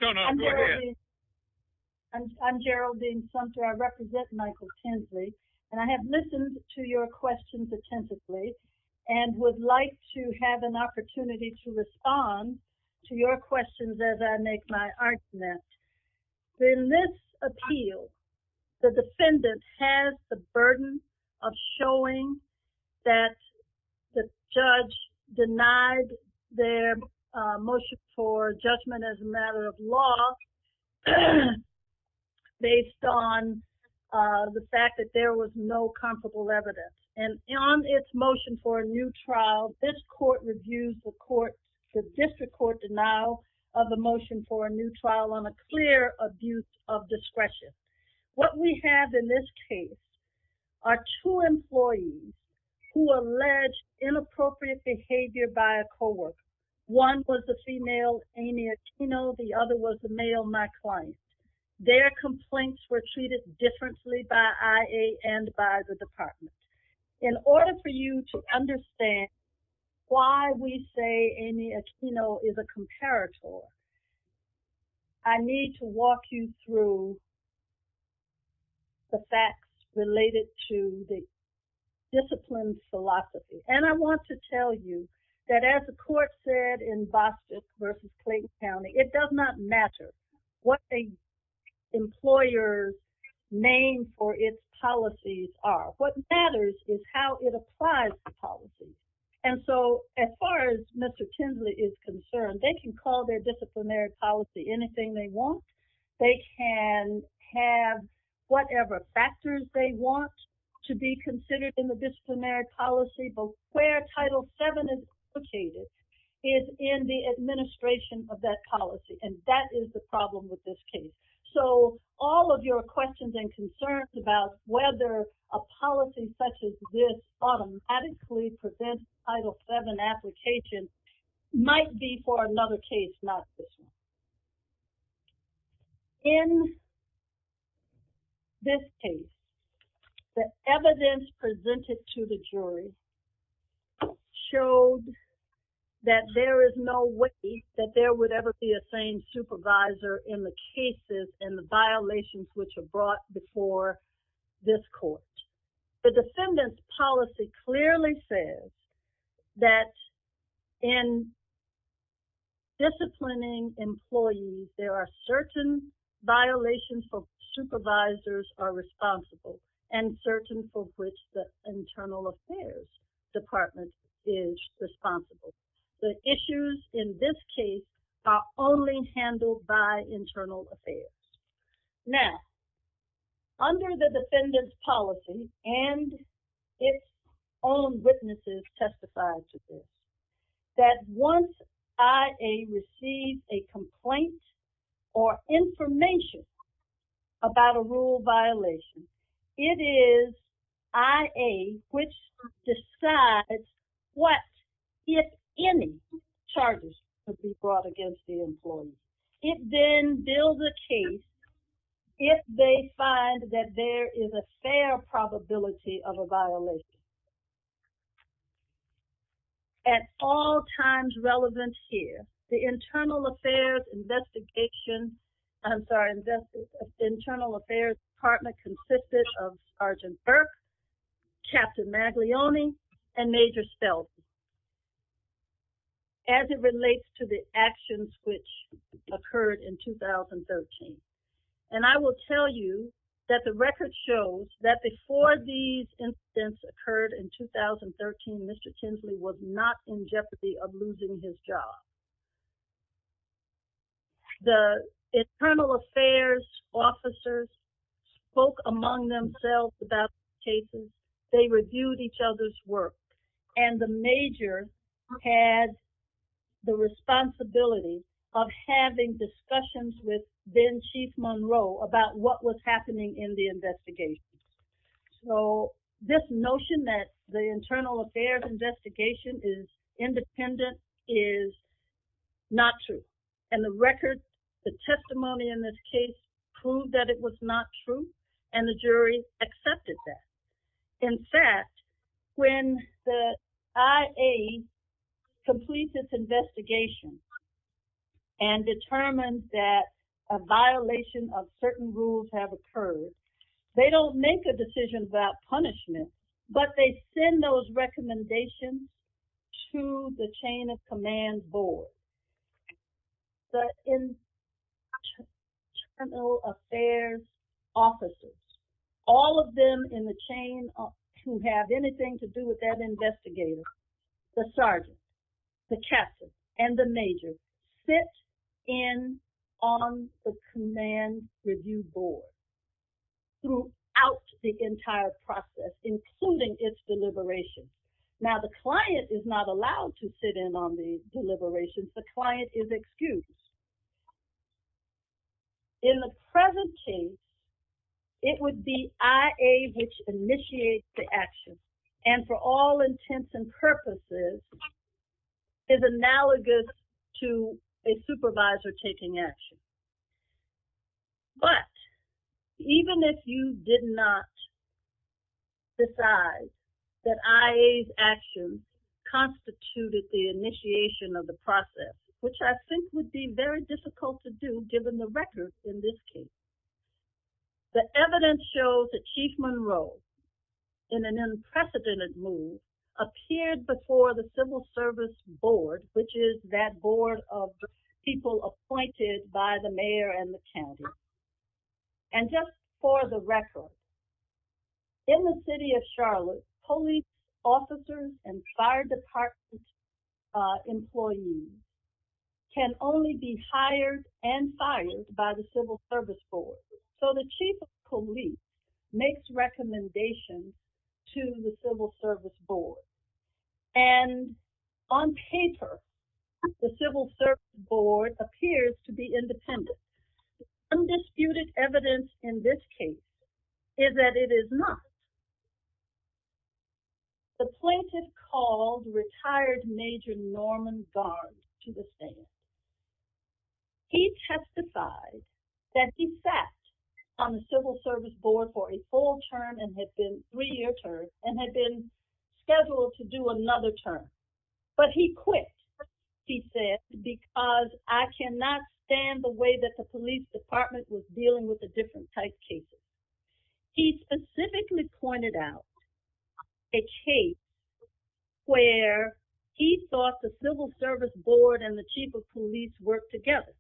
No, no, go ahead. I'm Geraldine Sumter. I represent Michael Kinsley, and I have listened to your questions attentively and would like to have an opportunity to respond to your questions as I make my argument. In this appeal, the defendant has the burden of showing that the judge denied their motion for judgment as a matter of law based on the fact that there was no comparable evidence. And on its motion for a new trial, this court reviews the district court denial of the motion for a new trial on a clear abuse of discretion. What we have in this case are two employees who allege inappropriate behavior by a coworker. One was the female, Amy Aquino. The other was the difference lead by IA and by the department. In order for you to understand why we say Amy Aquino is a comparator, I need to walk you through the facts related to the discipline philosophy. And I want to tell you that as the court said in Bostick versus Clayton County, it does not matter what the employer's name or its policies are. What matters is how it applies to policy. And so as far as Mr. Kinsley is concerned, they can call their disciplinary policy anything they want. They can have whatever factors they want to be considered in the that is the problem with this case. So all of your questions and concerns about whether a policy such as this automatically prevents Title VII application might be for another case, not this one. In this case, the evidence presented to the jury showed that there is no way that there would ever be a sane supervisor in the cases and the violations which are brought before this court. The defendant's policy clearly says that in disciplining employees, there are certain violations for supervisors are responsible and certain for which the internal affairs department is responsible. The issues in this case are only handled by internal affairs. Now, under the defendant's policy and its own witnesses testified to this, that once IA receives a complaint or information about a rule violation, it is IA which decides what, if any, charges could be brought against the employee. It then builds a case if they find that there is a fair probability of a violation. At all times relevant here, the internal affairs investigation, I'm sorry, the internal affairs partner consisted of Sergeant Burke, Captain Maglione, and Major Stelzner as it relates to the actions which occurred in 2013. And I will tell you that the record shows that before these incidents occurred in 2013, Mr. Kinsley was not in jeopardy of losing his job. The internal affairs officers spoke among themselves about cases. They reviewed each other's work. And the major had the responsibility of having discussions with Chief Monroe about what was happening in the investigation. So, this notion that the internal affairs investigation is independent is not true. And the record, the testimony in this case proved that it was not true and the jury accepted that. In fact, when the IA completes its investigation and determines that a violation of certain rules have occurred, they don't make a decision about punishment, but they send those recommendations to the chain of command board. The internal affairs officers, all of them in the chain who have anything to do with that major, sit in on the command review board throughout the entire process, including its deliberation. Now, the client is not allowed to sit in on the deliberations. The client is excused. In the present chain, it would be IA which initiates the action and for all intents and to a supervisor taking action. But even if you did not decide that IA's action constituted the initiation of the process, which I think would be very difficult to do given the records in this case, the evidence shows that Chief Monroe in an unprecedented move appeared before the civil service board, which is that board of people appointed by the mayor and the county. And just for the record, in the city of Charlotte, police officers and fire department employees can only be hired and fired by the civil service board. So the chief of police makes recommendations to the civil service board. And on paper, the civil service board appears to be independent. Undisputed evidence in this case is that it is not. The plaintiff called retired Major Norman Gard to the scene. He testified that he sat on the civil service board for a full term and had been scheduled to do another term. But he quit, he said, because I cannot stand the way that the police department was dealing with the different type cases. He specifically pointed out a case where he thought the civil service board and the chief of police worked together.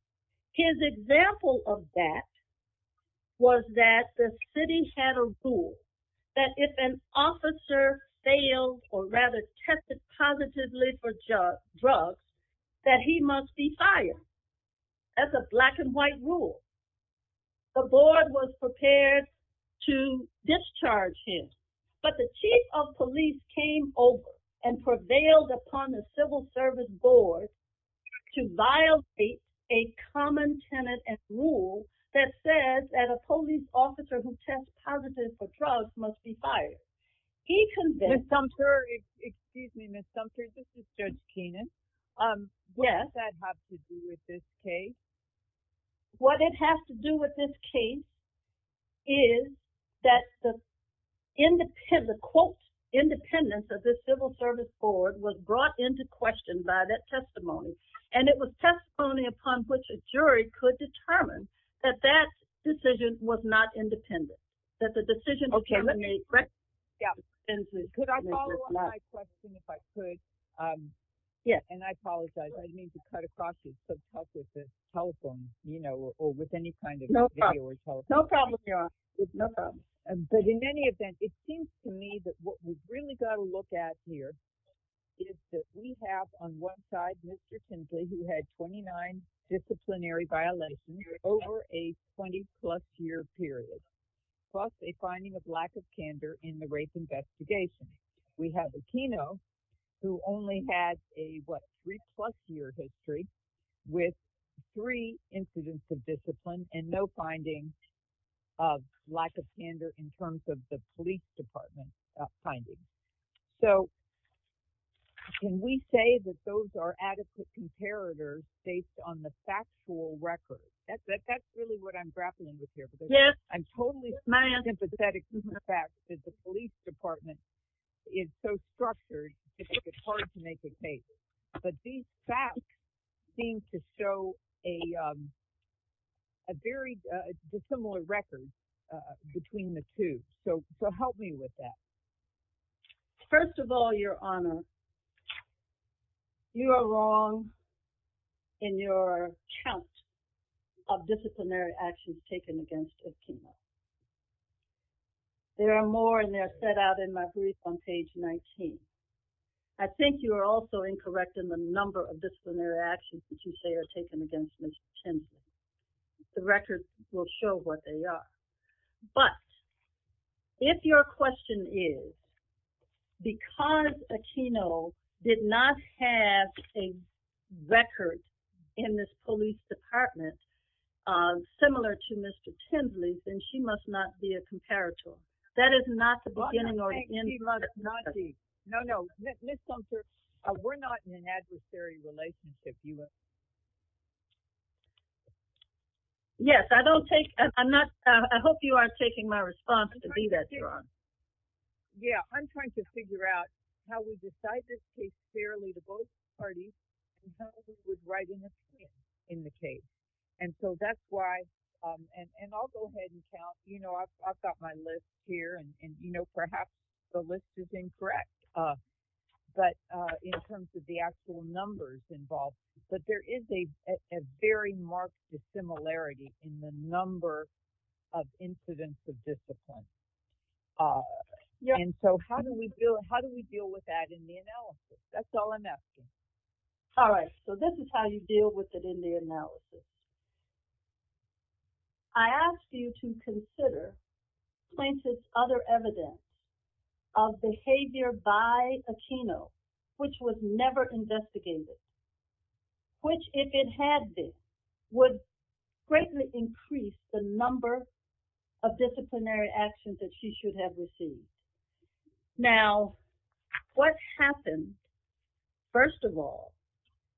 His example of that was that the city had a rule that if an officer failed or rather tested positively for drugs, that he must be fired. That's a black and white rule. The board was prepared to discharge him, but the chief of police told the civil service board to violate a common tenet and rule that says that a police officer who tests positive for drugs must be fired. He convinced Sumter, excuse me Ms. Sumter, this is Judge Kenan, what does that have to do with this case? What it has to do with this case is that the quote, independence of the civil service board was brought into question by that testimony. And it was testimony upon which a jury could determine that that decision was not independent. That the decision was made. Okay, let me correct you. Yeah. Could I follow up my question if I could? Yeah. And I apologize, I didn't mean to cut across your phone call with any kind of video or telephone. No problem. But in any event, it seems to me that what we've really got to look at here is that we have on one side, Mr. Kinsley, who had 29 disciplinary violations over a 20 plus year period, plus a finding of lack of candor in the rape investigation. We have Aquino, who only had a three plus year history with three incidents of discipline and no finding of lack of candor in terms of the police department findings. So can we say that those are adequate comparators based on the factual record? That's really what I'm grappling with here. I'm totally sympathetic to the fact that the police department is so structured, it's hard to make a case. But these facts seem to show a very dissimilar record between the two. So help me with that. First of all, Your Honor, you are wrong in your count of disciplinary actions taken against Aquino. There are more and they're set out in my brief on page 19. I think you are also incorrect in the number of disciplinary actions that you say are taken against Mr. Kinsley. The records will show what they are. But if your question is, because Aquino did not have a record in this police department, similar to Mr. Kinsley, then she must not be a comparator. That is not the Yes, I don't take I'm not. I hope you are taking my response to do that. Yeah, I'm trying to figure out how we decide this case fairly to both parties. In the case. And so that's why. And I'll go ahead and count. You know, I've got my list here. And you know, perhaps the list is incorrect. But in terms of the actual numbers involved, but there is a very marked dissimilarity in the number of incidents of discipline. And so how do we deal? How do we deal with that in the analysis? That's all I'm asking. All right, so this is how you deal with it in the analysis. I asked you to consider other evidence of behavior by Aquino, which was never investigated. Which, if it had been, would greatly increase the number of disciplinary actions that she should have received. Now, what happened, first of all,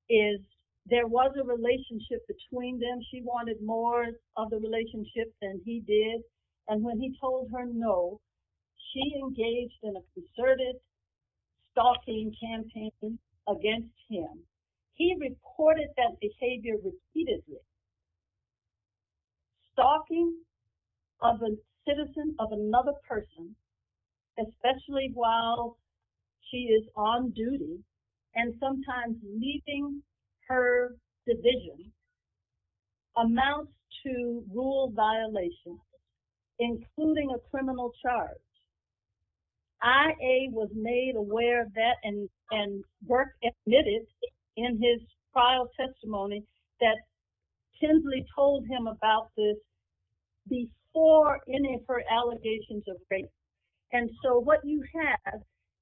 is there was a relationship between them. She wanted more of the relationship than he did. And when he told her no, she engaged in that behavior repeatedly. Stalking of a citizen, of another person, especially while she is on duty, and sometimes leaving her division, amounts to rule violation, including a criminal charge. I.A. was made aware of that and work admitted in his trial testimony that Tinsley told him about this before any of her allegations of rape. And so what you have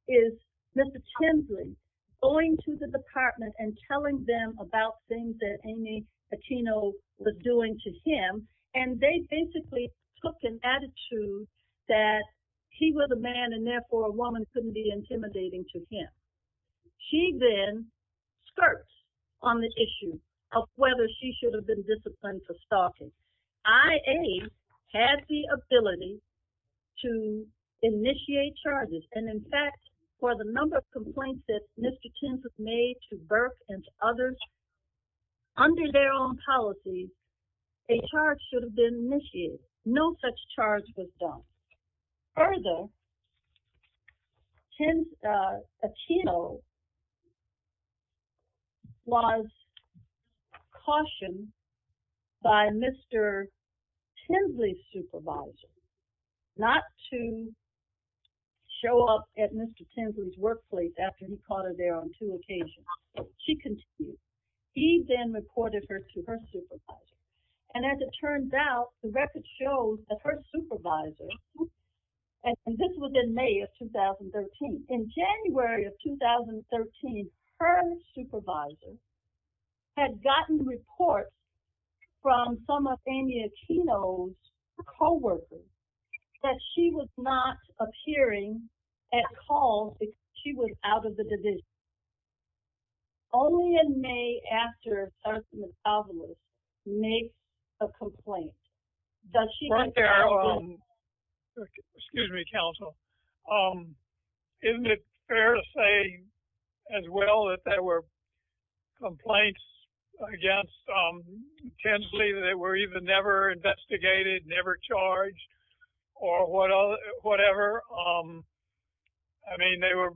is Mr. Tinsley going to the department and telling them about things that Amy Aquino was doing to him. And they basically took an attitude that he was a man and therefore a woman couldn't be intimidating to him. She then skirts on the issue of whether she should have been disciplined for stalking. I.A. had the ability to initiate charges. And in fact, for the number of complaints that Mr. Tinsley made to Burke and others, under their own policy, a charge should have been initiated. No such charge was done. Further, Aquino was cautioned by Mr. Tinsley's supervisor not to show up at Mr. Tinsley's workplace after he caught her there on two occasions. She continued. He then reported her to her supervisor. And as it turns out, the record shows that her supervisor, and this was in May of 2013. In January of 2013, her supervisor had gotten reports from some of Amy Aquino's co-workers that she was not appearing at calls because she was out of the division. Okay. Only in May after Sarsaparilla makes a complaint, does she- Right there. Excuse me, counsel. Isn't it fair to say as well that there were complaints against Tinsley that were even never investigated, never charged, or whatever? I mean, they were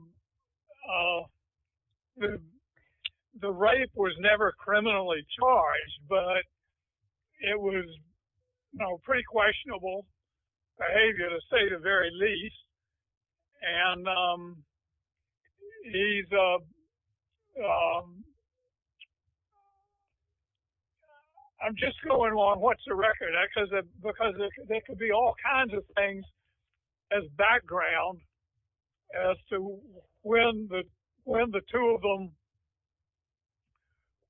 never- The rape was never criminally charged, but it was pretty questionable behavior to say the very least. I'm just going along, what's the record? Because there could be all kinds of things as background as to when the two of them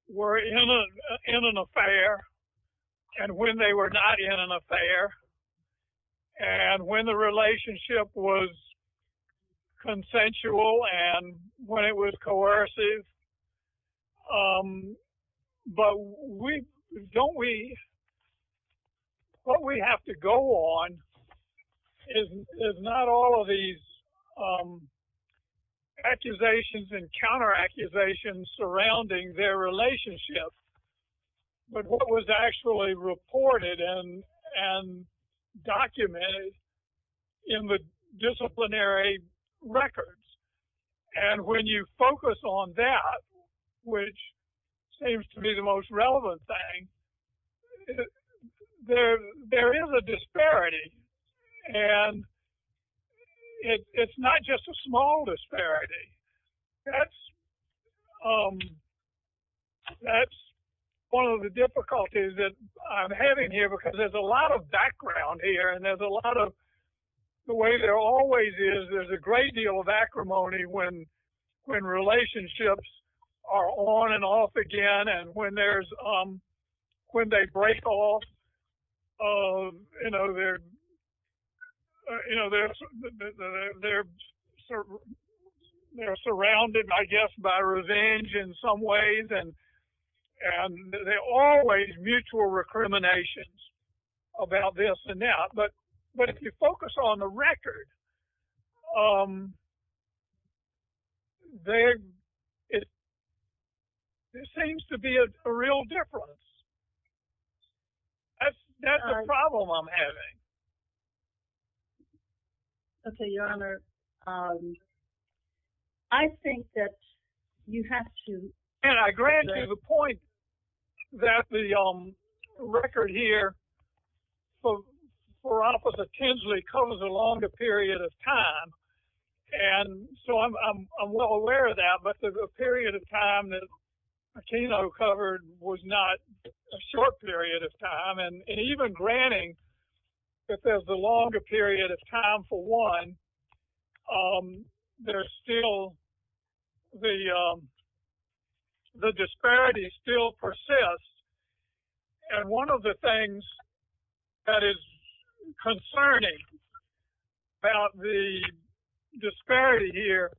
were in an affair, and when they were not in an affair, and when the relationship was consensual, and when it was not. And there's not all of these accusations and counter accusations surrounding their relationship, but what was actually reported and documented in the disciplinary records. And when you focus on that, which seems to be the most relevant thing, there is a disparity. And it's not just a small disparity. That's one of the difficulties that I'm having here because there's a lot of background here, and there's a lot of, the way there always is, there's a great deal of acrimony when relationships are on and off again, and when they break off, they're surrounded, I guess, by revenge in some ways, and they're always mutual recriminations about this and that. But if you focus on the record, there seems to be a real difference. That's the problem I'm having. Okay, Your Honor, I think that you have to... And I grant you the point that the record here for opposite Tinsley covers a longer period of time. And so I'm well aware of that, but the period of time that Aquino covered was not a short period of time. And even granting that there's a longer period of time for one, the disparity still persists. And one of the things that is concerning about the disparity here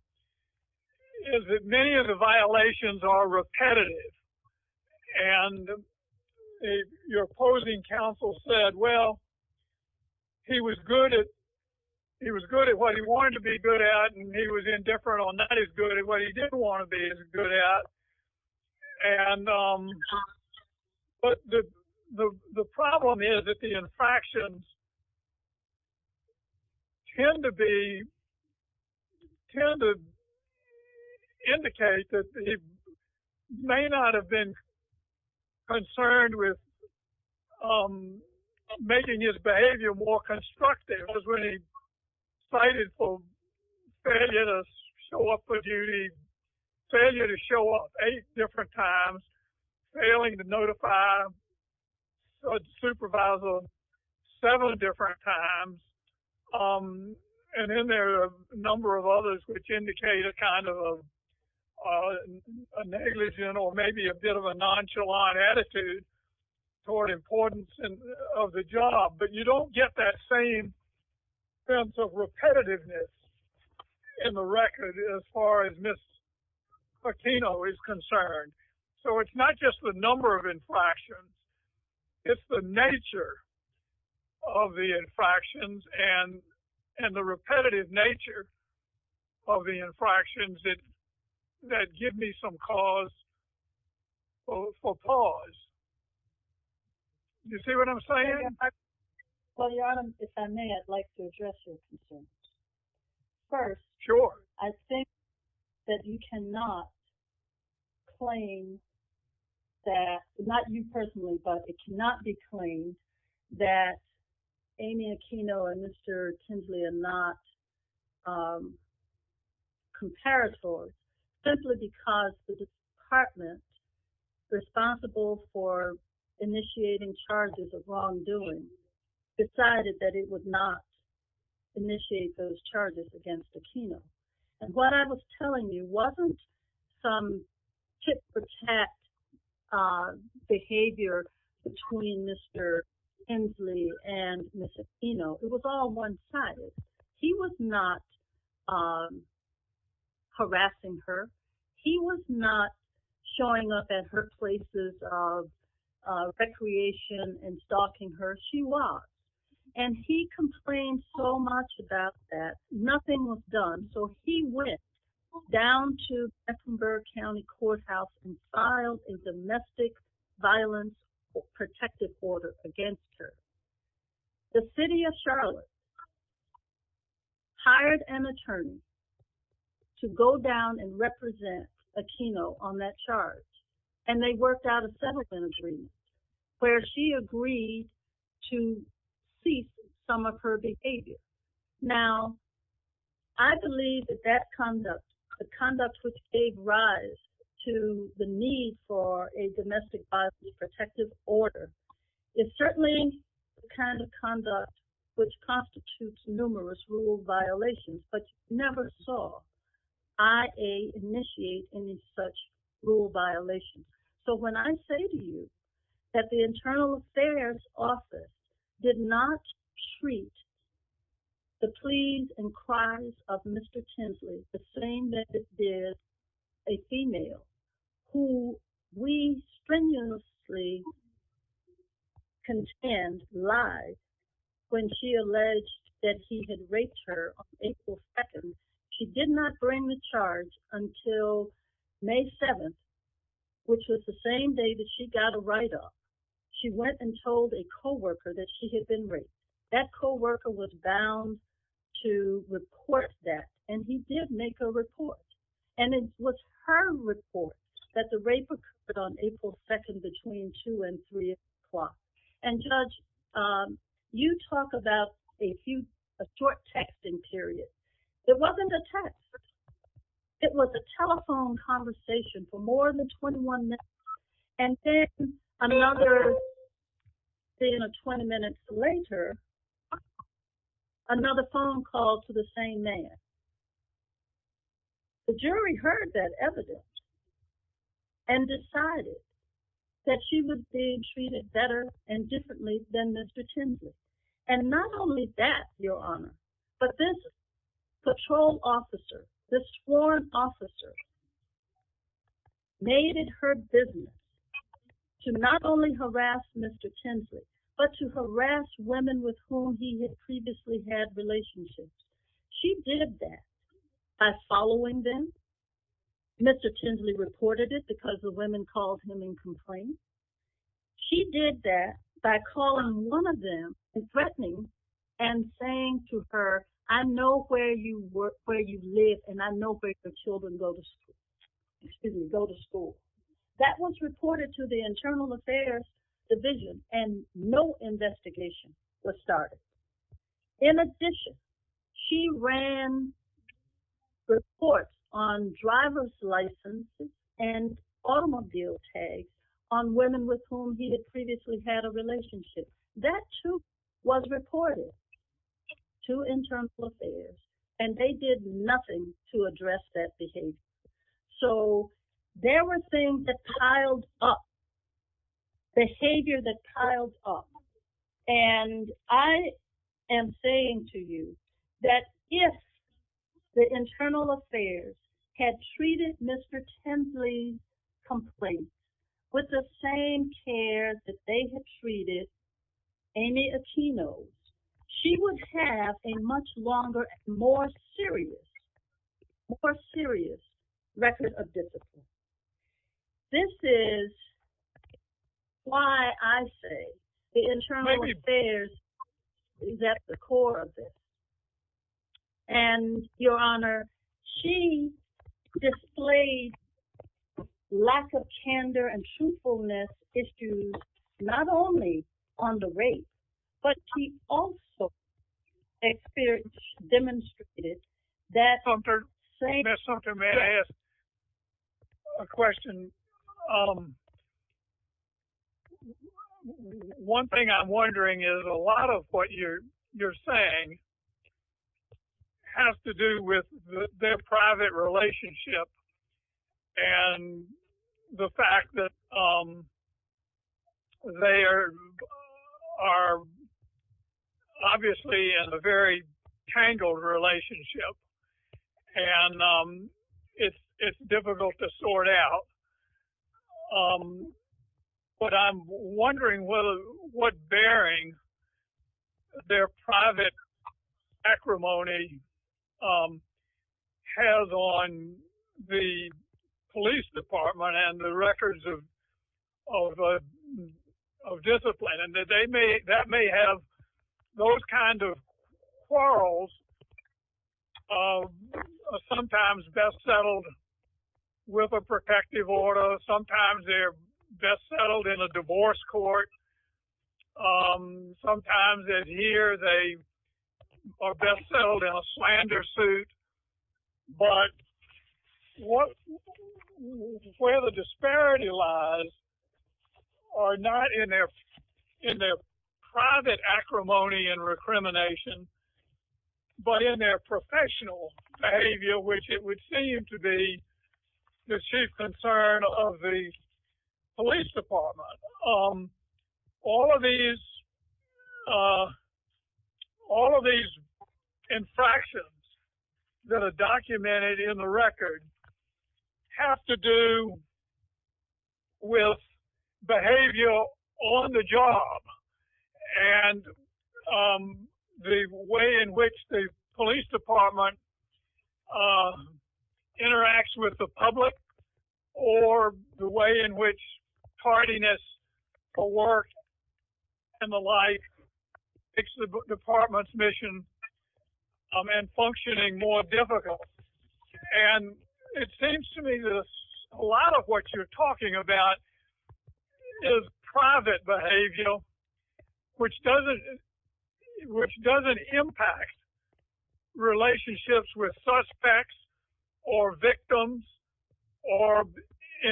is that many of the violations are repetitive. And your opposing counsel said, well, he was good at what he wanted to be good at, and he was indifferent on that, he was good at what he didn't want to be good at. But the problem is that the infractions tend to indicate that he may not have been concerned with making his behavior more constructive as when he cited for failure to show up for duty, failure to show up eight different times, failing to notify a supervisor seven different times. And then there are a number of others which indicate a kind of a negligent or maybe a bit of a nonchalant attitude toward importance of the job. But you don't get that same sense of repetitiveness in the record as far as Ms. Aquino is concerned. So it's not just the number of infractions, it's the nature of the infractions and the repetitive nature of the infractions that give me some cause for pause. You see what I'm saying? Well, Your Honor, if I may, I'd like to address your concern. First, I think that you cannot claim that, not you personally, but it cannot be claimed that Amy Aquino and Mr. Tindley are not comparators simply because the department responsible for initiating charges of wrongdoing decided that it would not initiate those charges against Aquino. And what I was telling you wasn't some tit-for-tat behavior between Mr. Tindley and Ms. Aquino. It was all one-sided. He was not at her places of recreation and stalking her. She was. And he complained so much about that, nothing was done. So he went down to Mecklenburg County Courthouse and filed a domestic violence protective order against her. The city of Charlotte hired an attorney to go down and represent Aquino on that charge. And they worked out a settlement agreement where she agreed to cease some of her behavior. Now, I believe that that conduct, the conduct which gave rise to the need for a domestic violence protective order, is certainly the kind of conduct which constitutes numerous rule violations, but never saw IA initiate any such rule violation. So when I say to you that the Internal Affairs Office did not treat the pleas and cries of Mr. Tindley the same that it did a female who we strenuously contend lied when she alleged that he had raped her on April 2nd, she did not bring the charge until May 7th, which was the same day that she got a write-off. She went and told a co-worker that she had been raped. That co-worker was bound to report that, and he did make a report. And it was her report that the rape occurred on April 2nd between 2 and 3 o'clock. And Judge, you talk about a short texting period. It wasn't a text. It was a telephone conversation for more than 21 minutes. And then another, say in 20 minutes later, another phone call to the same man. The jury heard that evidence and decided that she would be treated better and differently than Mr. Tindley. And not only that, Your Honor, but this patrol officer, this sworn officer, made it her business to not only harass Mr. Tindley, but to harass women with whom he had previously had relationships. She did that by following them. Mr. Tindley reported it because the women called him in complaint. She did that by calling one of them and threatening and saying to her, I know where you live, and I know where your children go to school. That was reported to the Internal Affairs Division, and no investigation was started. In addition, she ran reports on driver's licenses and automobile tags on women with whom he had previously had a relationship. That too was reported to Internal Affairs, and they did nothing to address that behavior. So there were things that piled up, behavior that piled up. And I am saying to you that if the Internal Affairs had treated Mr. Tindley's complaint with the same care that they had treated Amy Aquino's, she would have a much longer, more serious, more serious record of discipline. This is why I say the Internal Affairs is at the core of this. And, Your Honor, she displayed lack of candor and truthfulness issues not only on the rape, but she also demonstrated that... Mr. Sumter, may I ask a question? One thing I'm wondering is a lot of what you're saying has to do with their private relationship and the fact that they are obviously in a very tangled relationship, and it's difficult to sort out. But I'm wondering what bearing their private acrimony has on the police department and the records of discipline. And that may have those kinds of quarrels, sometimes best settled with a protective order, sometimes they're best settled in a divorce court, sometimes they're best settled in a slander suit. But where the disparity lies are not in their private acrimony and recrimination, but in their professional behavior, which it would seem to be the chief concern of the police department. All of these infractions that are documented in the record have to do with behavior on the job and the way in which the police department interacts with the public, or the way in which tardiness for work and the like makes the department's mission and functioning more difficult. And it seems to me that a lot of what you're talking about is private behavior, which doesn't impact relationships with suspects or victims or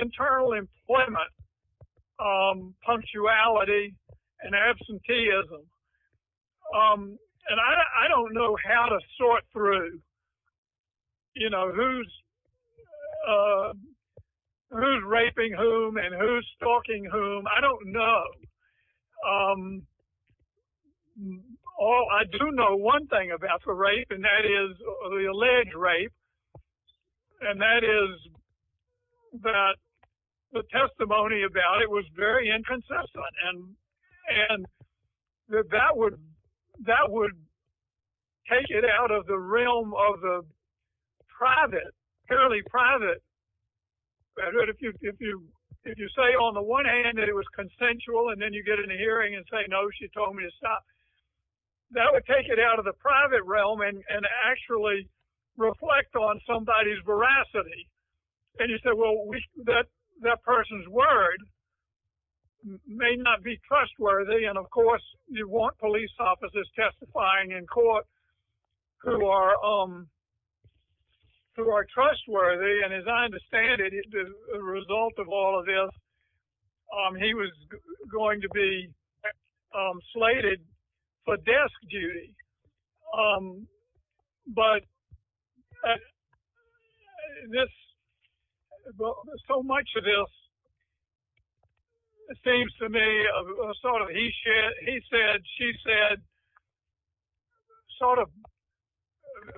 internal employment, punctuality, and absenteeism. And I don't know how to sort through who's raping whom and who's stalking whom. I don't know. I do know one thing about the rape, and that is the alleged rape, and that is that the testimony about it was very inconsistent. And that would take it out of the realm of the private, purely private. If you say on the one hand that it was consensual and then you get in a hearing and say, no, she told me to stop, that would take it out of the private realm and actually reflect on somebody's veracity. And you say, well, that person's word may not be trustworthy. And of course, you want police officers testifying in court who are trustworthy. And as I understand it, the result of all of this, he was going to be slated for desk duty. But so much of this seems to me, he said, she said, sort of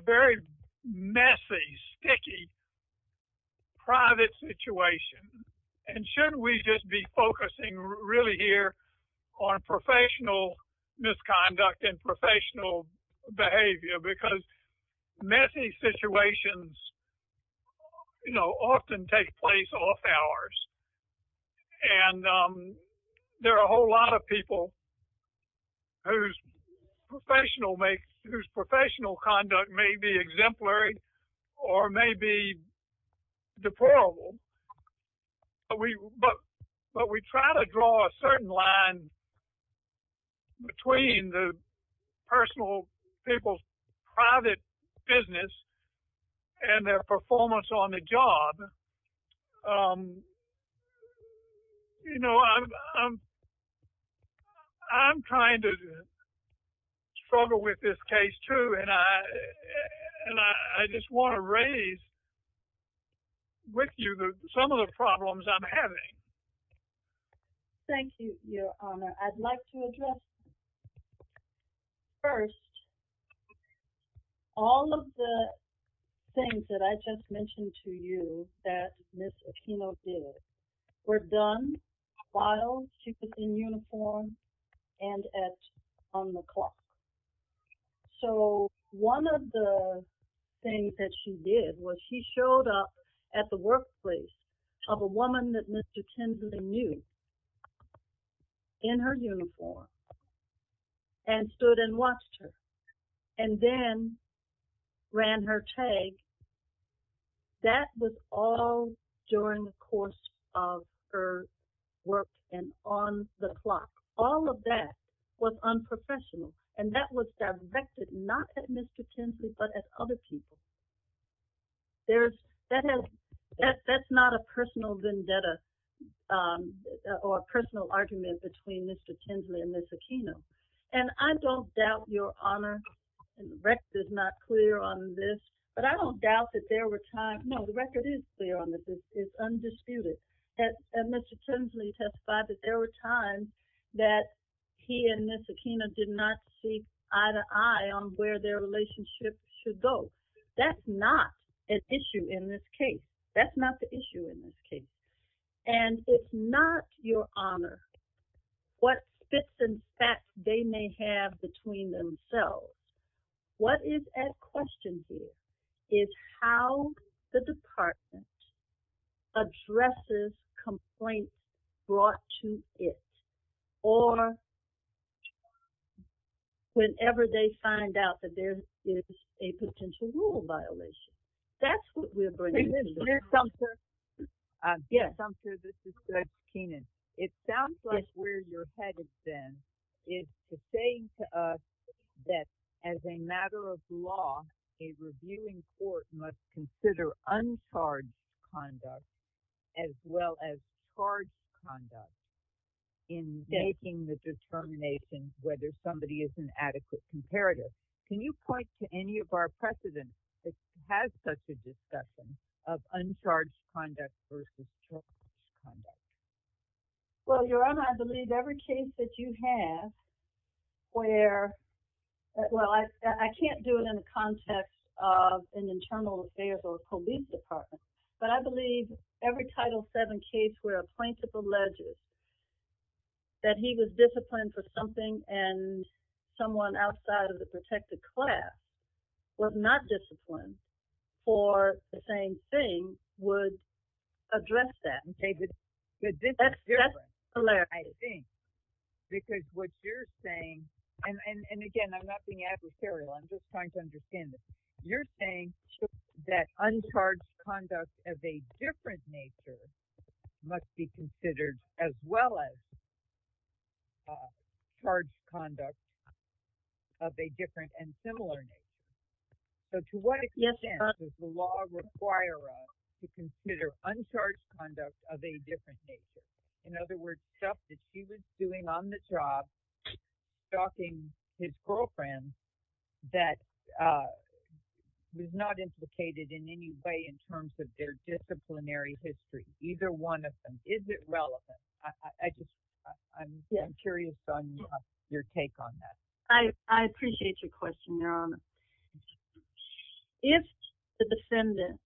very messy, sticky, private situation. And shouldn't we just be focusing really here on professional misconduct and professional behavior? Because messy situations often take place off hours. And there are a whole lot of people whose professional conduct may be exemplary or may be deplorable. But we try to draw a certain line between the personal, people's private business and their performance on the job. I'm trying to struggle with this case too. And I just want to some of the problems I'm having. Thank you, Your Honor. I'd like to address first, all of the things that I just mentioned to you that Ms. Aquino did were done, filed, she was in uniform and on the clock. So one of the things that she did was she showed up at the workplace of a woman that Mr. Kinsley knew in her uniform and stood and watched her. And then ran her tag. That was all during the course of her work and on the clock. All of that was unprofessional. And that was directed not at Mr. Kinsley, but at other people. That's not a personal vendetta or a personal argument between Mr. Kinsley and Ms. Aquino. And I don't doubt, Your Honor, the record is not clear on this, but I don't doubt that there were times, no, the record is clear on this. It's undisputed. And Mr. Kinsley testified that there were times that he and Ms. Aquino did not keep eye to eye on where their relationship should go. That's not an issue in this case. That's not the issue in this case. And if not, Your Honor, what fits in fact they may have between themselves, what is at question here is how the department addresses complaints brought to it or whenever they find out that there is a potential rule violation. That's what we're going to do. Ms. Sumpter, this is Judge Keenan. It sounds like where your head has been is to say to us that as a matter of law, a reviewing court must consider uncharged conduct as well as determining whether somebody is an adequate comparative. Can you point to any of our precedents that has such a discussion of uncharged conduct versus charged conduct? Well, Your Honor, I believe every case that you have where, well, I can't do it in the context of an internal affairs or police department, but I believe every Title VII case where a and someone outside of the protected class was not disciplined for the same thing would address that. That's hilarious. I think because what you're saying, and again, I'm not being adversarial. I'm just trying to understand this. You're saying that uncharged conduct of a different nature must be considered as well as charged conduct of a different and similar nature. To what extent does the law require us to consider uncharged conduct of a different nature? In other words, stuff that she was doing on the job, stalking his girlfriends that was not implicated in any way in terms of their one of them. Is it relevant? I'm curious on your take on that. I appreciate your question, Your Honor. If the defendant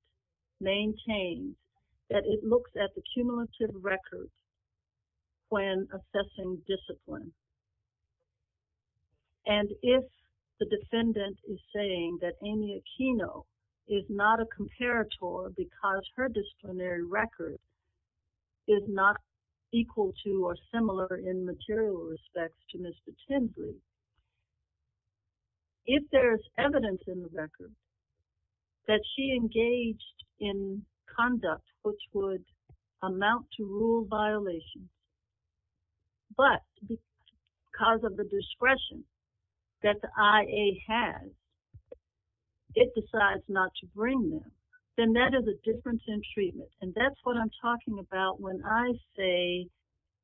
maintains that it looks at the cumulative records when assessing discipline, and if the defendant is saying that Amy Aquino is not a comparator because her disciplinary record is not equal to or similar in material respects to Mr. Tinbury, if there's evidence in the record that she engaged in conduct which would them, then that is a difference in treatment. That's what I'm talking about when I say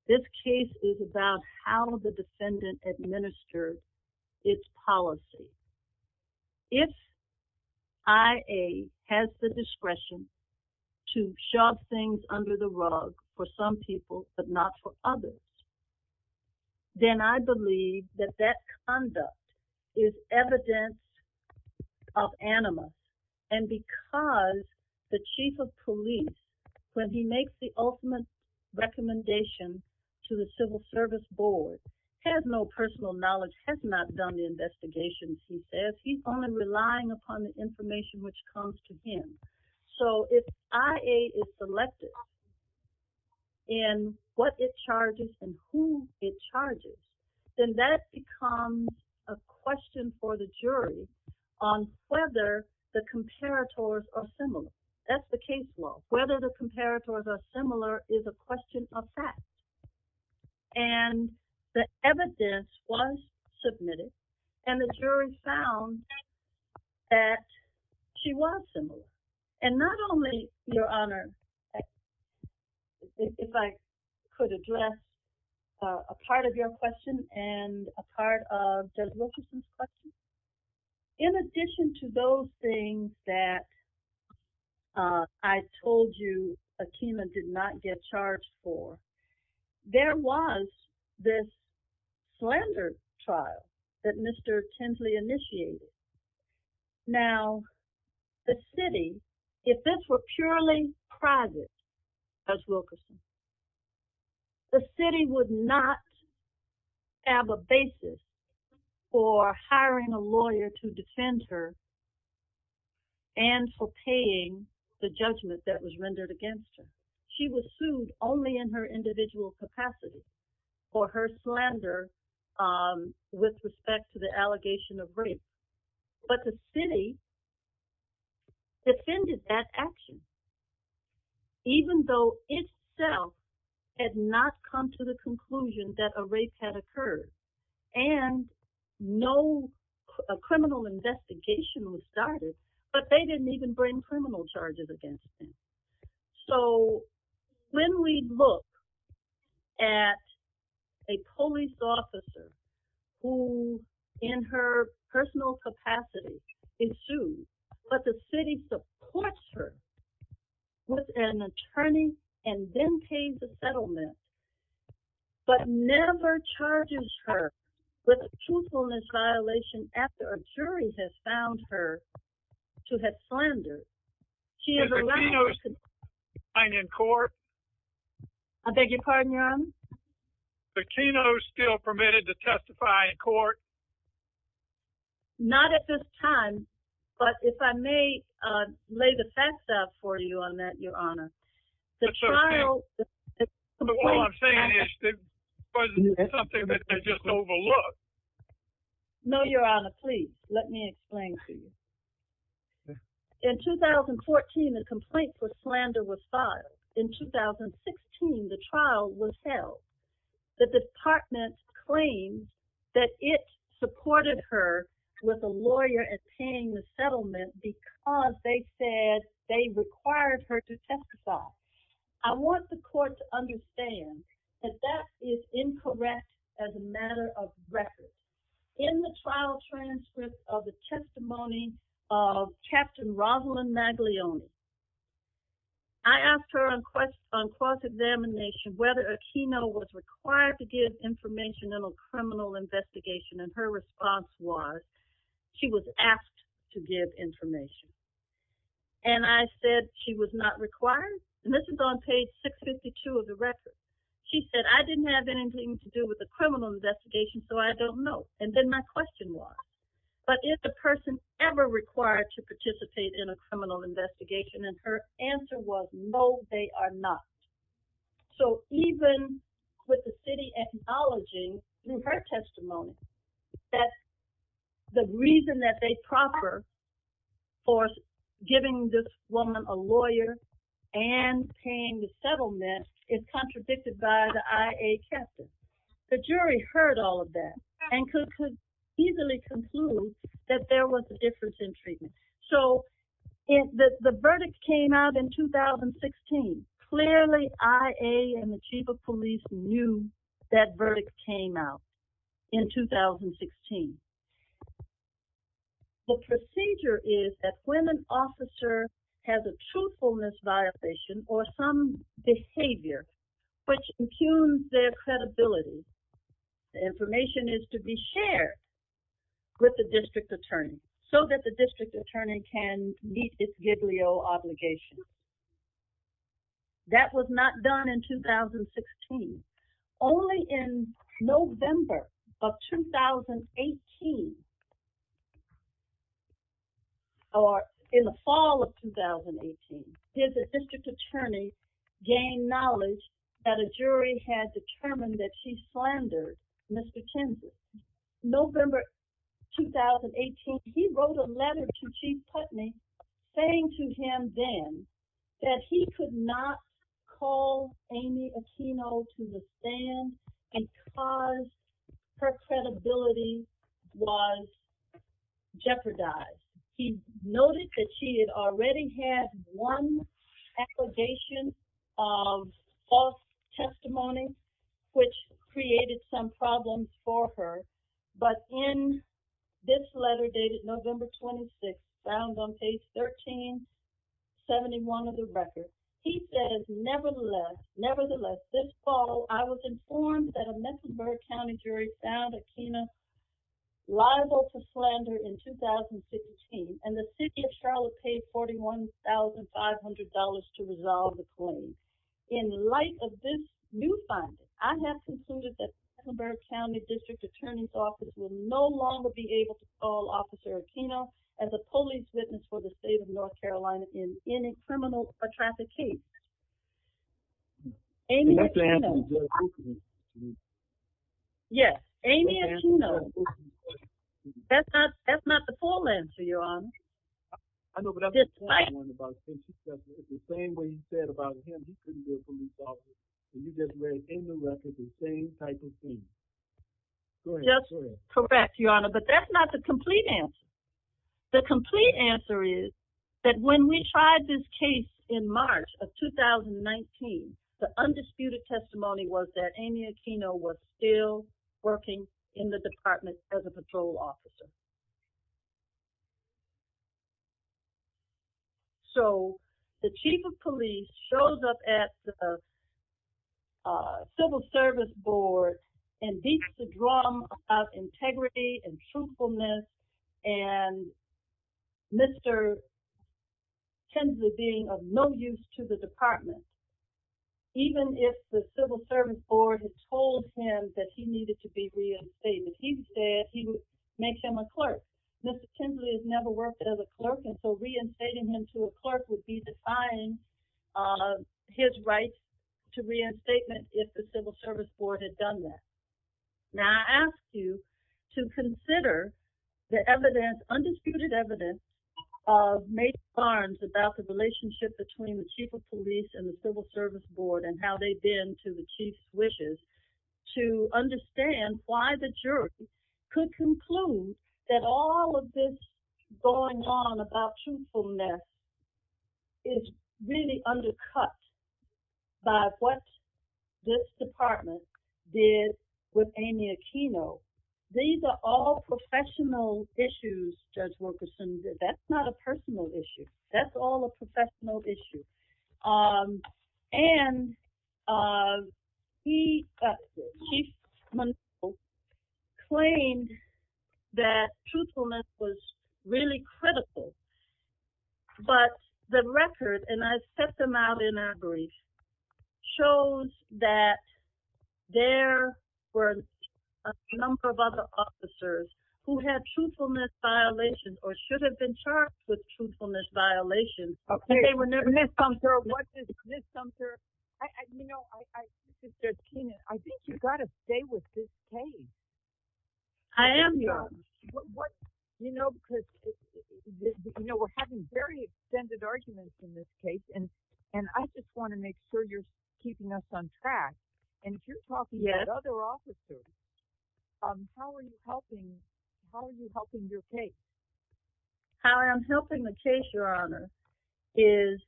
this case is about how the defendant administers its policy. If IA has the discretion to shove things under the rug for some people but not for others, then I believe that that conduct is evidence of anima. Because the chief of police, when he makes the ultimate recommendation to the civil service board, has no personal knowledge, has not done the investigations, he says he's only relying upon the information which comes to him. If IA is selected to be a comparator in what it charges and who it charges, then that becomes a question for the jury on whether the comparators are similar. That's the case law. Whether the comparators are similar is a question of fact. And the evidence was submitted, and the jury found that she was similar. And not only, Your Honor, if I could address a part of your question and a part of Judge Locuston's question, in addition to those things that I told you Akima did not get charged for, there was this slander trial that Mr. Tinsley initiated. Now, the city, if this were purely private, Judge Locuston, the city would not have a basis for hiring a lawyer to defend her and for paying the judgment that was rendered against her. She was sued only in her individual capacity for her slander with respect to the allegation of rape. But the city defended that action, even though itself had not come to the conclusion that a rape had occurred. And no criminal investigation was started, but they didn't even bring criminal charges against her. So, when we look at a police officer who, in her personal capacity, is sued, but the city supports her with an attorney and then pays the settlement, but never charges her with truthfulness violation after a jury has found her to have slandered. Is Akima still permitted to testify in court? I beg your pardon, Your Honor? Is Akima still permitted to testify in court? Not at this time, but if I may lay the facts out for you on that, Your Honor. All I'm saying is that wasn't something that they just overlooked. No, Your Honor. Please, let me explain to you. In 2014, the complaint for slander was filed. In 2016, the trial was held. The department claimed that it supported her with a lawyer and paying the settlement because they said they required her to testify. I want the court to understand that that is incorrect as a matter of record. In the trial transcript of the testimony of Captain Rosalyn Maglione, I asked her on court examination whether Akima was required to give information in a criminal investigation, and her response was she was asked to give She said, I didn't have anything to do with the criminal investigation, so I don't know. And then my question was, but is the person ever required to participate in a criminal investigation? And her answer was, no, they are not. So even with the city acknowledging in her testimony that the reason that they proffer for giving this woman a lawyer and paying the settlement is contradicted by the IA captain, the jury heard all of that and could easily conclude that there was a difference in treatment. So the verdict came out in 2016. Clearly, IA and the chief of police knew that verdict came out in 2016. The procedure is that when an officer has a truthfulness violation or some behavior which impugns their credibility, the information is to be shared with the district attorney so that the district attorney can meet its Gidleo obligations. That was not done in 2016. Only in November of 2018, or in the fall of 2018, did the district attorney gain knowledge that a jury had determined that she slandered Mr. Kinsey. November 2018, he wrote a letter to Chief Putney saying to him then that he could not call Amy Aquino to the stand because her credibility was jeopardized. He noted that she had already had one allegation of false testimony, which created some problems for her. But in this letter dated November 26, found on page 1371 of the record, he says, nevertheless, this fall, I was informed that a Mecklenburg County jury found Aquino liable to slander in 2015, and the city of Charlotte paid $41,500 to resolve the claim. In light of this new finding, I have concluded that the Mecklenburg County district attorney's office will no longer be able to call Officer Aquino as a police witness for the state of North Carolina in any criminal or traffic case. Amy Aquino. Yes, Amy Aquino. That's not the full answer, Your Honor. But that's not the complete answer. The complete answer is that when we tried this case in March of 2019, the undisputed testimony was that Amy Aquino was still in the department as a patrol officer. So the chief of police shows up at the civil service board and beats the drum of integrity and truthfulness and Mr. Kinsley being of no use to the department. Even if the civil service board had told him that he needed to be reinstated, he said he would make him a clerk. Mr. Kinsley has never worked as a clerk, and so reinstating him to a clerk would be defying his right to reinstatement if the civil service board had done that. Now, I ask you to consider the undisputed evidence of Mace Barnes about the relationship between the chief of police and the civil service board and how they've been to the chief's wishes to understand why the jury could conclude that all of this going on about truthfulness is really undercut by what this department did with Amy Aquino. These are all professional issues, Judge Wilkerson. That's not a personal issue. That's all a professional issue. And he claimed that truthfulness was really critical, but the record, and I set them out in our brief, shows that there were a number of other officers who had truthfulness violations or should have been charged with truthfulness violations, but they were never misconstrued. What is misconstrued? You know, I think you've got to stay with this case. I am, Your Honor. You know, we're having very extended arguments in this case, and I just want to make sure you're keeping us on track. And if you're talking about other officers, how are you helping your case? How I'm helping the case, Your Honor, is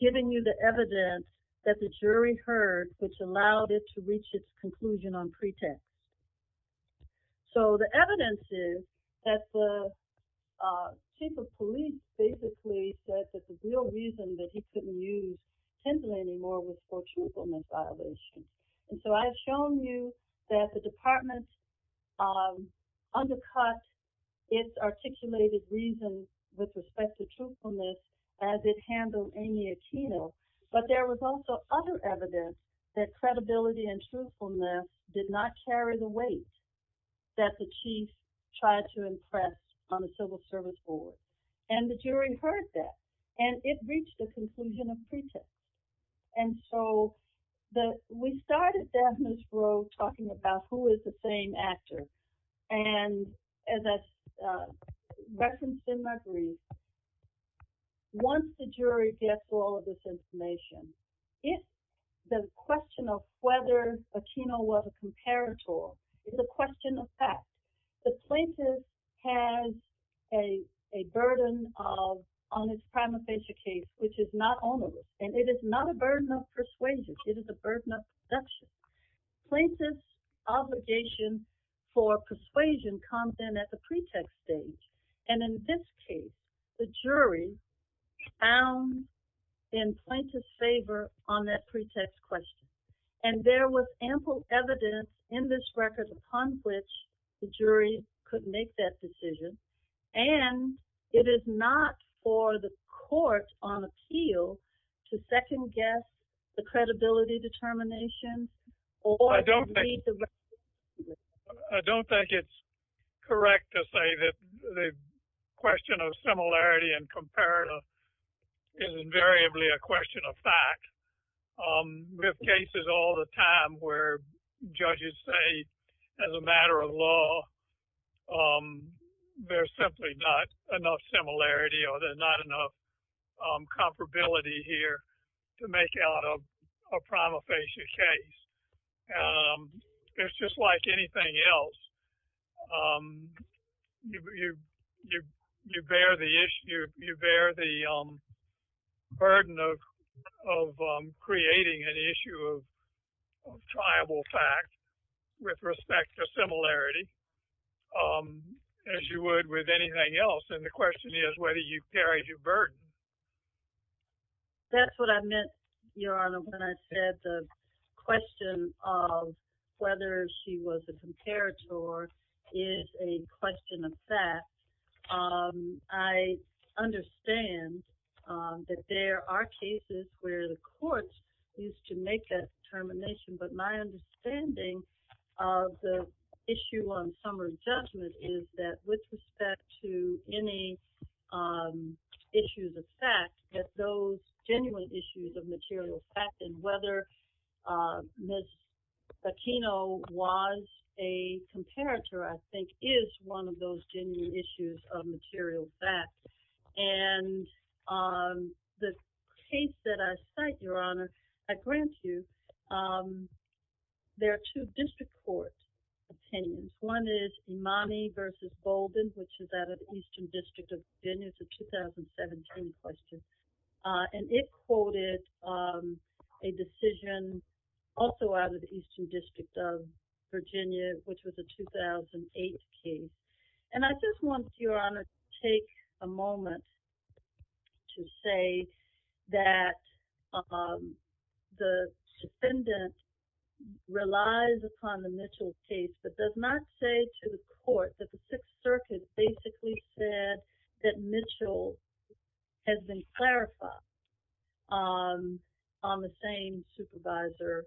giving you the evidence that the jury heard which allowed it to reach its conclusion on pretext. So the evidence is that the chief of police basically said that the real reason that he couldn't use Tinsley anymore was for truthfulness violations. And so I've shown you that the department undercut its articulated reasons with respect to truthfulness as it handled Amy Aquino, but there was also other evidence that credibility and truthfulness did not carry the weight that the chief tried to impress on the civil service board. And the jury heard that, and it reached the conclusion of pretext. And so we started Daphna's Grove talking about who is the same actor, and that's referenced in my brief. Once the jury gets all of this information, the question of whether Aquino was a comparator is a question of fact. The plaintiff has a burden on his prima facie case which is not honorable, and it is not a burden of persuasion. It is a burden of perception. Plaintiff's obligation for persuasion comes in at the pretext stage, and in this case, the jury found in plaintiff's favor on that pretext question. And there was ample evidence in this record upon which the jury could make that decision, and it is not for the court on appeal to second-guess the credibility determination. I don't think it's correct to say that the similarity and comparator is invariably a question of fact. We have cases all the time where judges say as a matter of law there's simply not enough similarity or there's not enough comparability here to make out a prima facie case. It's just like anything else. You bear the burden of creating an issue of triable fact with respect to similarity as you would with anything else, and the question is whether you carry your burden. That's what I meant, Your Honor, when I said the question of whether she was a comparator is a question of fact. I understand that there are cases where the courts used to make that determination, but my understanding of the issue on summary judgment is that with respect to any issues of fact, that those genuine issues of material fact and whether Ms. Aquino was a comparator, I think, is one of those genuine issues of material fact, and the case that I cite, Your Honor, I grant you there are two district courts obtained. One is Imani v. Bolden, which is out of the Eastern District of Virginia. It's a 2017 question, and it quoted a decision also out of the Eastern District of Virginia, which was a 2008 case, and I just want, Your Honor, to take a moment to say that the defendant relies upon the Mitchell case but does not say to the court that the Sixth has been clarified on the same supervisor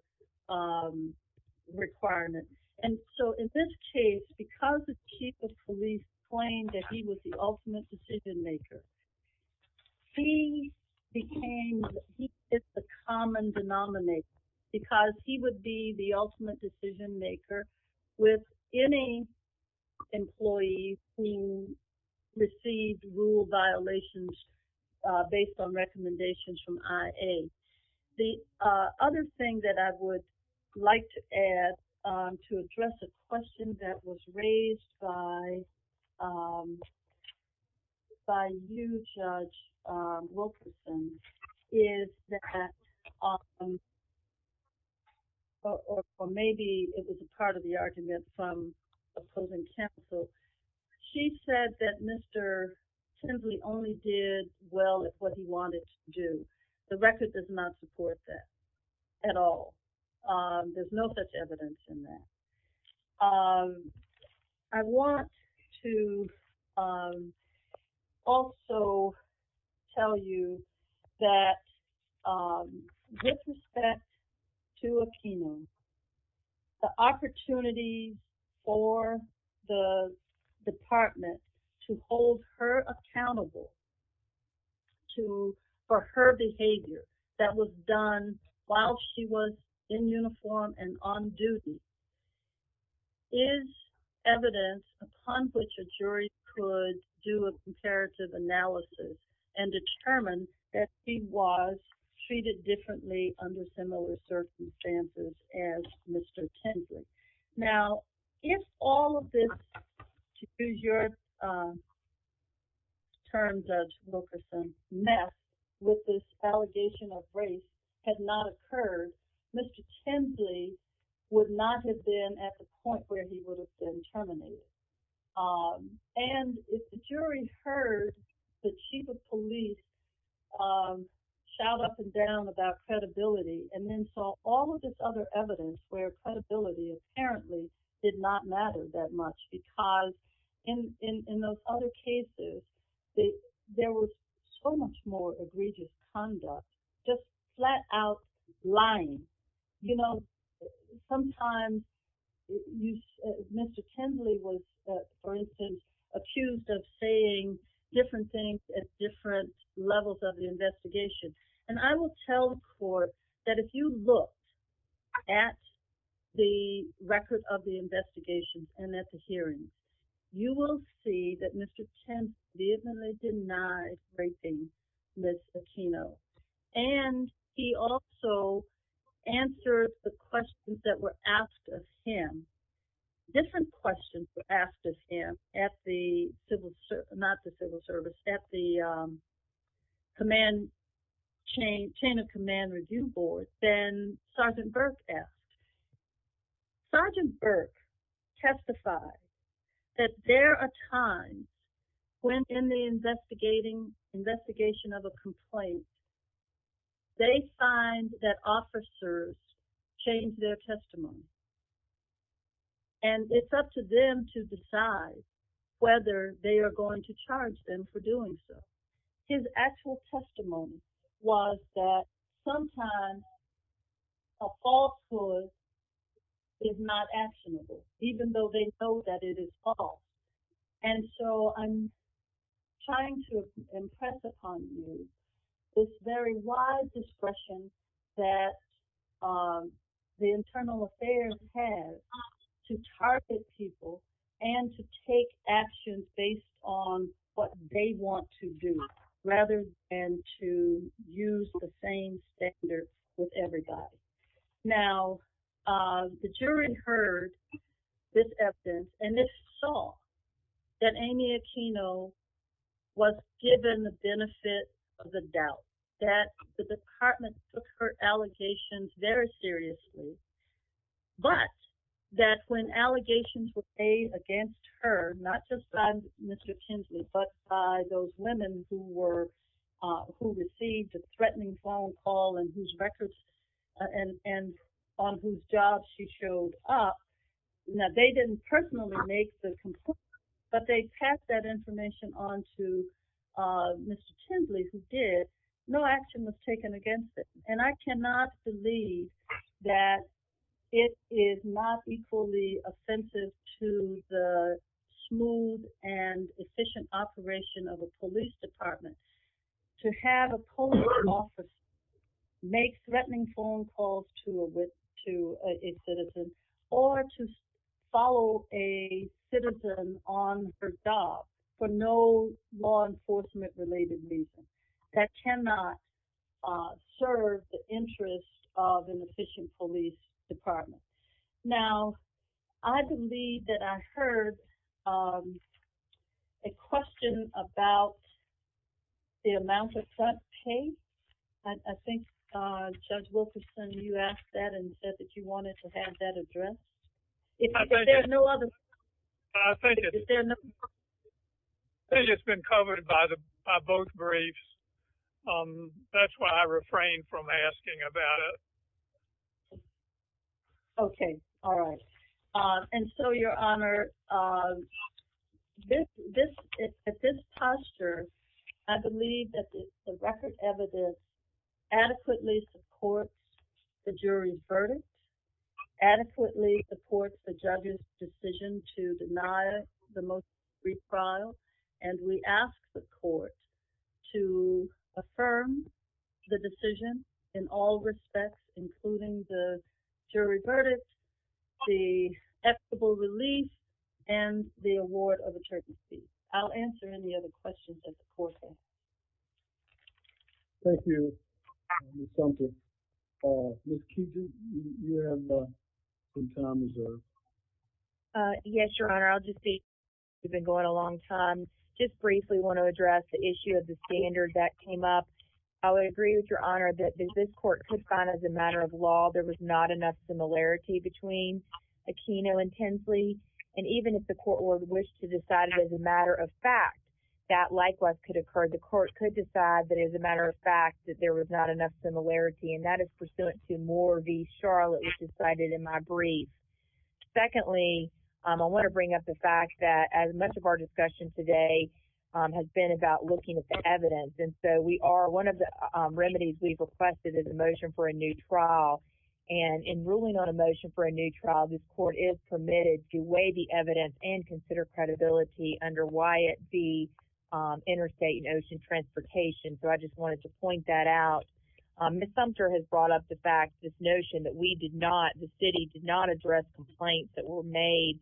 requirement, and so in this case, because the chief of police claimed that he was the ultimate decision maker, he became the common denominator because he would be the ultimate decision maker with any employee who received rule violations based on recommendations from IA. The other thing that I would like to add to address a question that was raised by you, Judge Wilkerson, is that, or maybe it was a part of the argument from opposing counsel, she said that Mr. Tinsley only did well at what he wanted to do. The record does not support that at all. There's no such evidence in that. I want to also tell you that with respect to opinion, the opportunity for the department to hold her accountable to, for her behavior that was done while she was in uniform and on duty is evidence upon which a jury could do a comparative analysis and determine that he was treated differently under similar circumstances as Mr. Tinsley. Now, if all of this, to use your terms, Judge Wilkerson, mess with this allegation of race had not occurred, Mr. Tinsley would not have been at the point where he would have been terminated. And if the jury heard the chief of credibility and then saw all of this other evidence where credibility apparently did not matter that much because in those other cases, there was so much more egregious conduct, just flat out lying. You know, sometimes Mr. Tinsley was, for instance, accused of saying different things at different levels of the investigation. And I will tell the court that if you look at the record of the investigation and at the hearing, you will see that Mr. Tinsley denies raping Ms. Aquino. And he also answered the questions that were asked of him, different questions were asked of him at the, not the civil service, at the command chain, chain of command review board, then Sergeant Burke asked. Sergeant Burke testified that there are times when in the investigating, investigation of a complaint, they find that officers change their testimony. And it's up to them to decide whether they are going to charge them for doing so. His actual testimony was that sometimes a falsehood is not actionable, even though they know that it is false. And so I'm trying to impress upon you this very wide discretion that the internal affairs has to target people and to take action based on what they want to do, rather than to use the same standard with everybody. Now, the jury heard this evidence and they saw that Amy Aquino was given the benefit of the doubt, that the department took her allegations very seriously, but that when allegations were paid against her, not just by Mr. Tinsley, but by those women who were, who received a threatening phone whose job she showed up, now they didn't personally make the complaint, but they passed that information on to Mr. Tinsley who did, no action was taken against it. And I cannot believe that it is not equally offensive to the smooth and efficient operation of a police department to have a police officer make threatening phone calls to a citizen or to follow a citizen on her job for no law enforcement related reason. That cannot serve the interests of an efficient police department. Now, I believe that I heard a question about the amount of cut paid. I think Judge Wilkerson, you asked that and said that you wanted to have that address. I think it's been covered by both briefs. That's why I refrained from asking about it. Okay. All right. And so your honor, at this posture, I believe that the record evidence adequately supports the jury's verdict, adequately supports the judge's decision to deny the most brief trial. And we ask the court to affirm the decision in all respects, including the jury's verdict, the acceptable release, and the award of attorney's fees. I'll answer any other questions at the forefront. Thank you, Ms. Thompson. Ms. Keegan, you have some time as well. Yes, your honor. I'll just speak. We've been going a long time. Just briefly want to address the issue of the standard that came up. I would agree with your honor that this court could find as a matter of law there was not enough similarity between Aquino and Tinsley. And even if the court were to wish to decide it as a matter of fact, that likewise could occur. The court could decide that as a matter of fact that there was not enough similarity. And that is pursuant to Moore v. Charlotte, which is cited in my brief. Secondly, I want to bring up the fact that as much of our discussion today has been about looking at the evidence. And so we are, one of the And in ruling on a motion for a new trial, this court is permitted to weigh the evidence and consider credibility under Wyatt v. Interstate Ocean Transportation. So I just wanted to point that out. Ms. Sumter has brought up the fact, this notion that we did not, the city did not address complaints that were made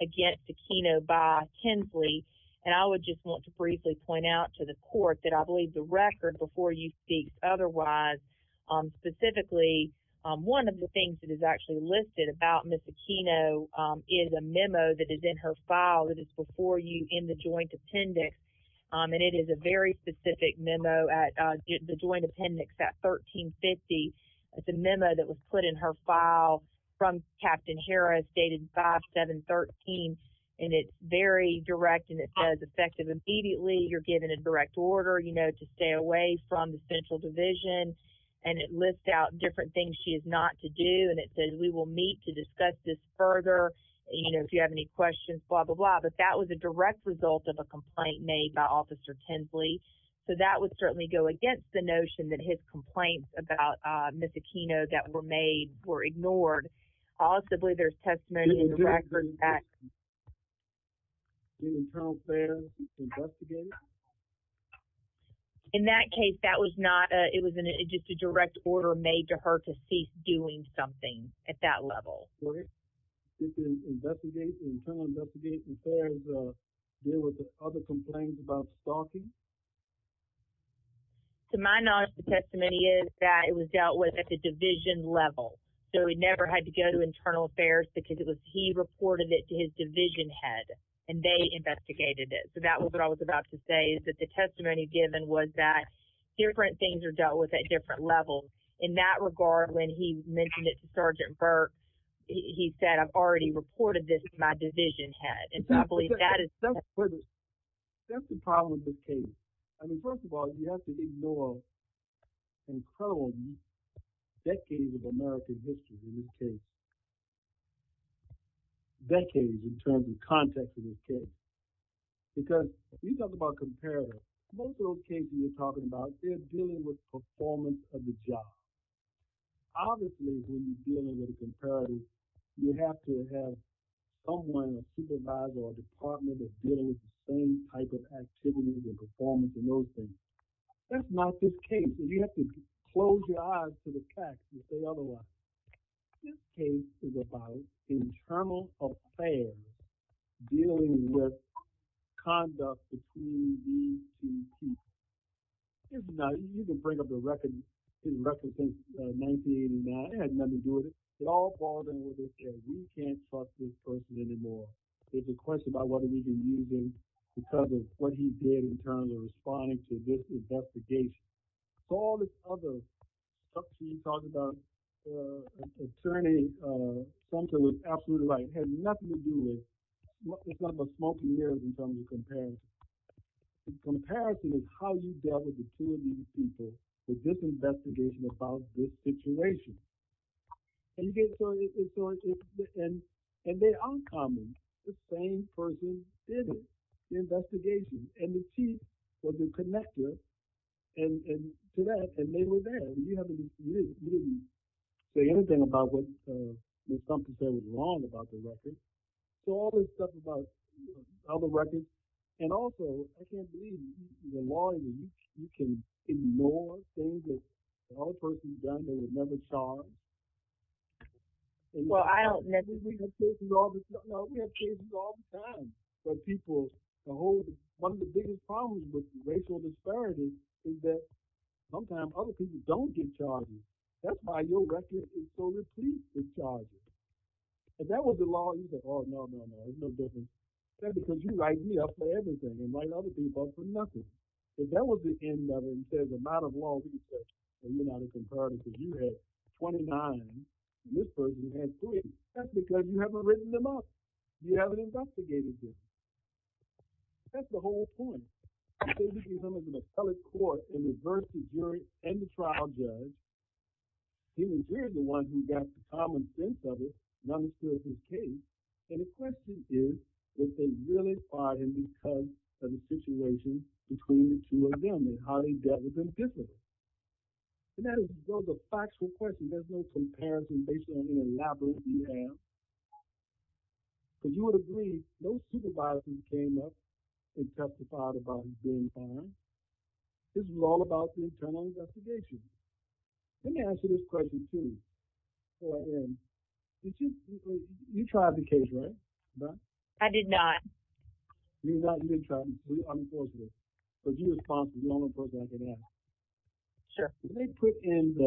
against Aquino by Tinsley. And I would just want to briefly point out to the court that I believe the record before you speaks otherwise, specifically one of the things that is actually listed about Ms. Aquino is a memo that is in her file that is before you in the joint appendix. And it is a very specific memo at the joint appendix at 1350. It's a memo that was put in her file from Captain Harris dated 5-7-13. And it's very direct and it says effective immediately, you're given a direct order, you know, to stay away from the Central Division. And it lists out different things she is not to do. And it says we will meet to discuss this further. You know, if you have any questions, blah, blah, blah. But that was a direct result of a complaint made by Officer Tinsley. So that would certainly go against the notion that his complaints about Ms. Aquino that were made were ignored. Possibly there's testimony in the record that she was investigated? In that case, that was not a, it was just a direct order made to her to cease doing something at that level. Sorry? Investigate, internal investigation affairs deal with other complaints about stalking? So my knowledge of the testimony is that it was dealt with at the Division level. So he never had to go to Internal Affairs because it was he reported it to his investigated it. So that was what I was about to say, is that the testimony given was that different things are dealt with at different levels. In that regard, when he mentioned it to Sergeant Burke, he said, I've already reported this to my Division head. And I believe that is That's the problem with this case. I mean, first of all, you have to ignore some incredible decades of American history in this case. Decades in terms of context of this case. Because if you talk about comparatives, most of those cases you're talking about, they're dealing with performance of the job. Obviously, when you're dealing with comparatives, you have to have someone, a supervisor, or a department that's dealing with the same type of activities and performance and those things. That's not this case. And you have to close your eyes to the facts, if they otherwise. This case is about Internal Affairs dealing with conduct between these two people. It's not, you can bring up a record that represents 1989. It has nothing to do with it. It all falls in with this case. You can't talk to this person anymore. There's a question about whether he's been using because of what he did in terms of responding to this investigation. All this other stuff you talked about concerning something with absolute right had nothing to do with what the smoke and mirrors in terms of comparison. The comparison is how you dealt with the two of these people with this investigation about this situation. And they're uncommon. The same person did it, the investigation. And the chief was connected to that, and they were there. He didn't say anything about what he said. There's something that was wrong about the record. So all this stuff about all the records. And also, I can't believe you can ignore things that the whole person's done. They were never charged. We have cases all the time where people, one of the biggest problems with racial disparities is that sometimes other people don't get charged. That's why your record is so received, the charges. If that was the law, you'd be like, oh, no, no, no, it's no business. That's because you write me up for everything and write other people up for nothing. But that was the end of it. It says the amount of law research that you had compared it to. You had 29, and this person had three. That's because you haven't written them up. You haven't investigated this. That's the whole point. They're looking for him as an appellate court, an adversity jury, and a trial judge. He was weirdly the one who got the common sense of it, not necessarily his case. And the question is, did they really fire him because of the situation between the two of them and how they dealt with him physically? And that is, though, the factual question. There's no comparison based on how elaborate you are. But you would agree, no supervisor came up and testified about him being fired. This was all about the internal investigation. Let me answer this question, too, before I end. You tried the case, right? I did not. You did not. You didn't try. You were unlawful. But you were responsible. You're the only person who was unlawful. And didn't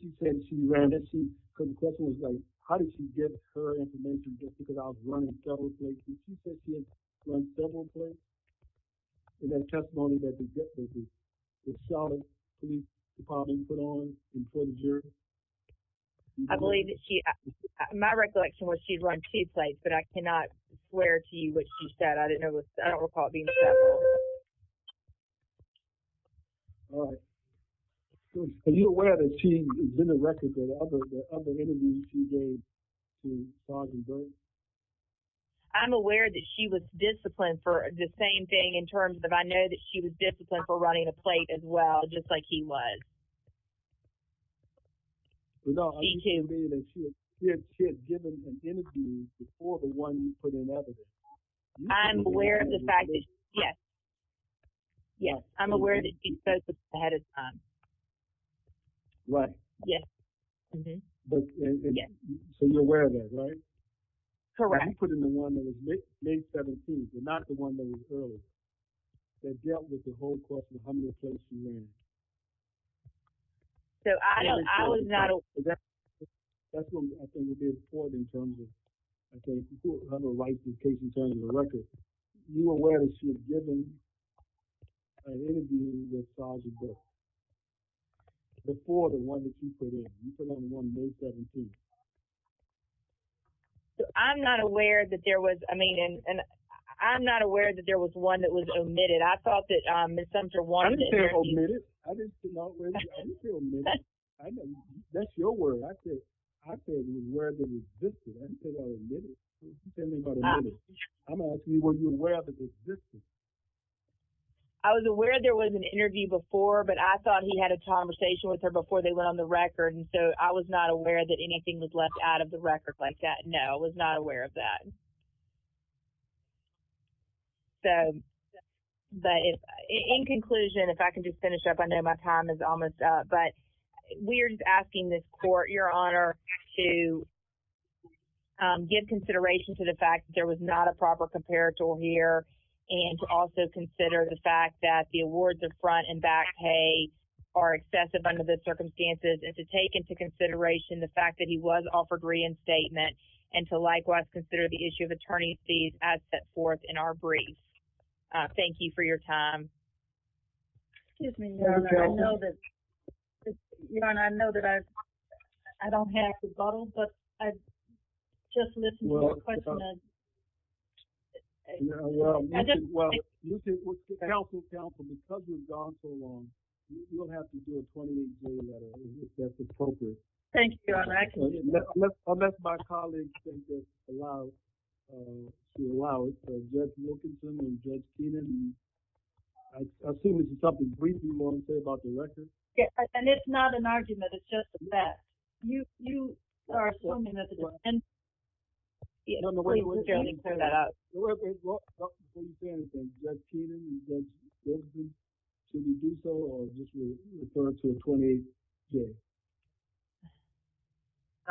she say she ran it? Because the question was, how did she get her information just because I was running several places? Did she say she had run several places? In that testimony that the child police department put on in front of jury? I believe that she, my recollection was she'd run two places, but I cannot swear to you what she said. I don't recall it being said. All right. Are you aware that she's been in records of other interviews she made? I'm aware that she was disciplined for the same thing in terms of I know that she was disciplined for running a plate as well, just like he was. No, she had given an interview before the one you put in evidence. I'm aware of the fact that, yes. Yes, I'm aware that she spoke ahead of time. Right. Yes. So you're aware of that, right? Correct. You put in the one that was May 17th, but not the one that was earlier. That dealt with the whole question of how many places she ran. So I was not aware. That's what I think it is for in terms of, okay, if you have a license case in terms of the record, you are aware that she was given an interview with charges before the one that she put in. You put in the one May 17th. I'm not aware that there was, I mean, and I'm not aware that there was one that was omitted. I thought that Ms. Sumter wanted to hear. I didn't say omitted. I didn't say omitted. I didn't say omitted. That's your word. I said, I said you were aware that it existed. I didn't say that was omitted. You said it was omitted. I'm going to ask you, were you aware that it existed? I was aware there was an interview before, but I thought he had a conversation with her before they went on the record. And so I was not aware that anything was left out of the record like that. No, I was not aware of that. So, but in conclusion, if I can just finish up, I know my time is almost up, but we're just asking this court your honor to give consideration to the fact that there was not a proper comparator here and to also consider the fact that the awards of front and back pay are excessive under the circumstances and to take into consideration the fact that he was offered reinstatement and to likewise consider the issue of attorney fees as set forth in our brief. Thank you for your time. Excuse me, your honor, I know that I don't have to bottle, but I just listened to your question. Well, counsel, counsel, because you've gone so long, you'll have to do a 20-day letter if that's appropriate. Thank you, your honor, I can do that. Unless my colleagues can just allow, to allow it. And I assume it's something briefly about the record. Yeah, and it's not an argument. It's just that you, you are assuming that the way we're going to clear that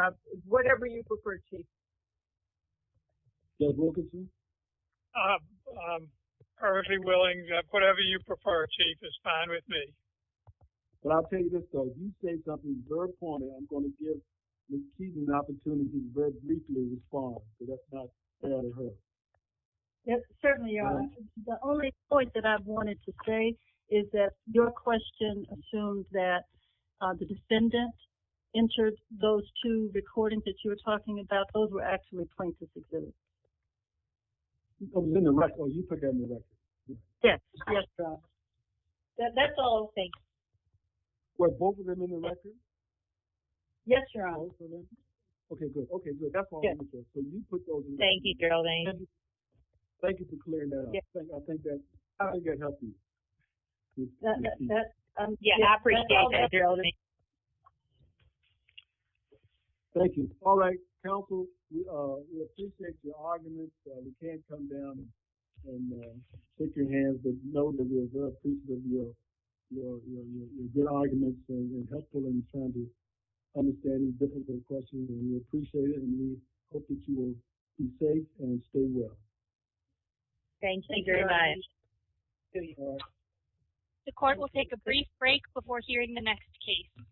up. Whatever you prefer. I'm perfectly willing, whatever you prefer chief is fine with me. Yes, certainly. The only point that I wanted to say is that your question assumes that the defendant entered those two recordings that you were talking about. Those were actually plaintiff's exhibits. Yes, that's all okay. Were both of them in the record? Yes, your honor. Okay, good. Okay, good. Thank you, Geraldine. Thank you for clearing that up. I think that, I think that helped you. Yeah, I appreciate that, Geraldine. Thank you. All right, counsel, we appreciate your arguments. You can come down and shake your hands. But know that we appreciate your good arguments and helpful in trying to understand difficult questions. And we appreciate it and we hope that you will be safe and stay well. Thank you very much. The court will take a brief break before hearing the next case.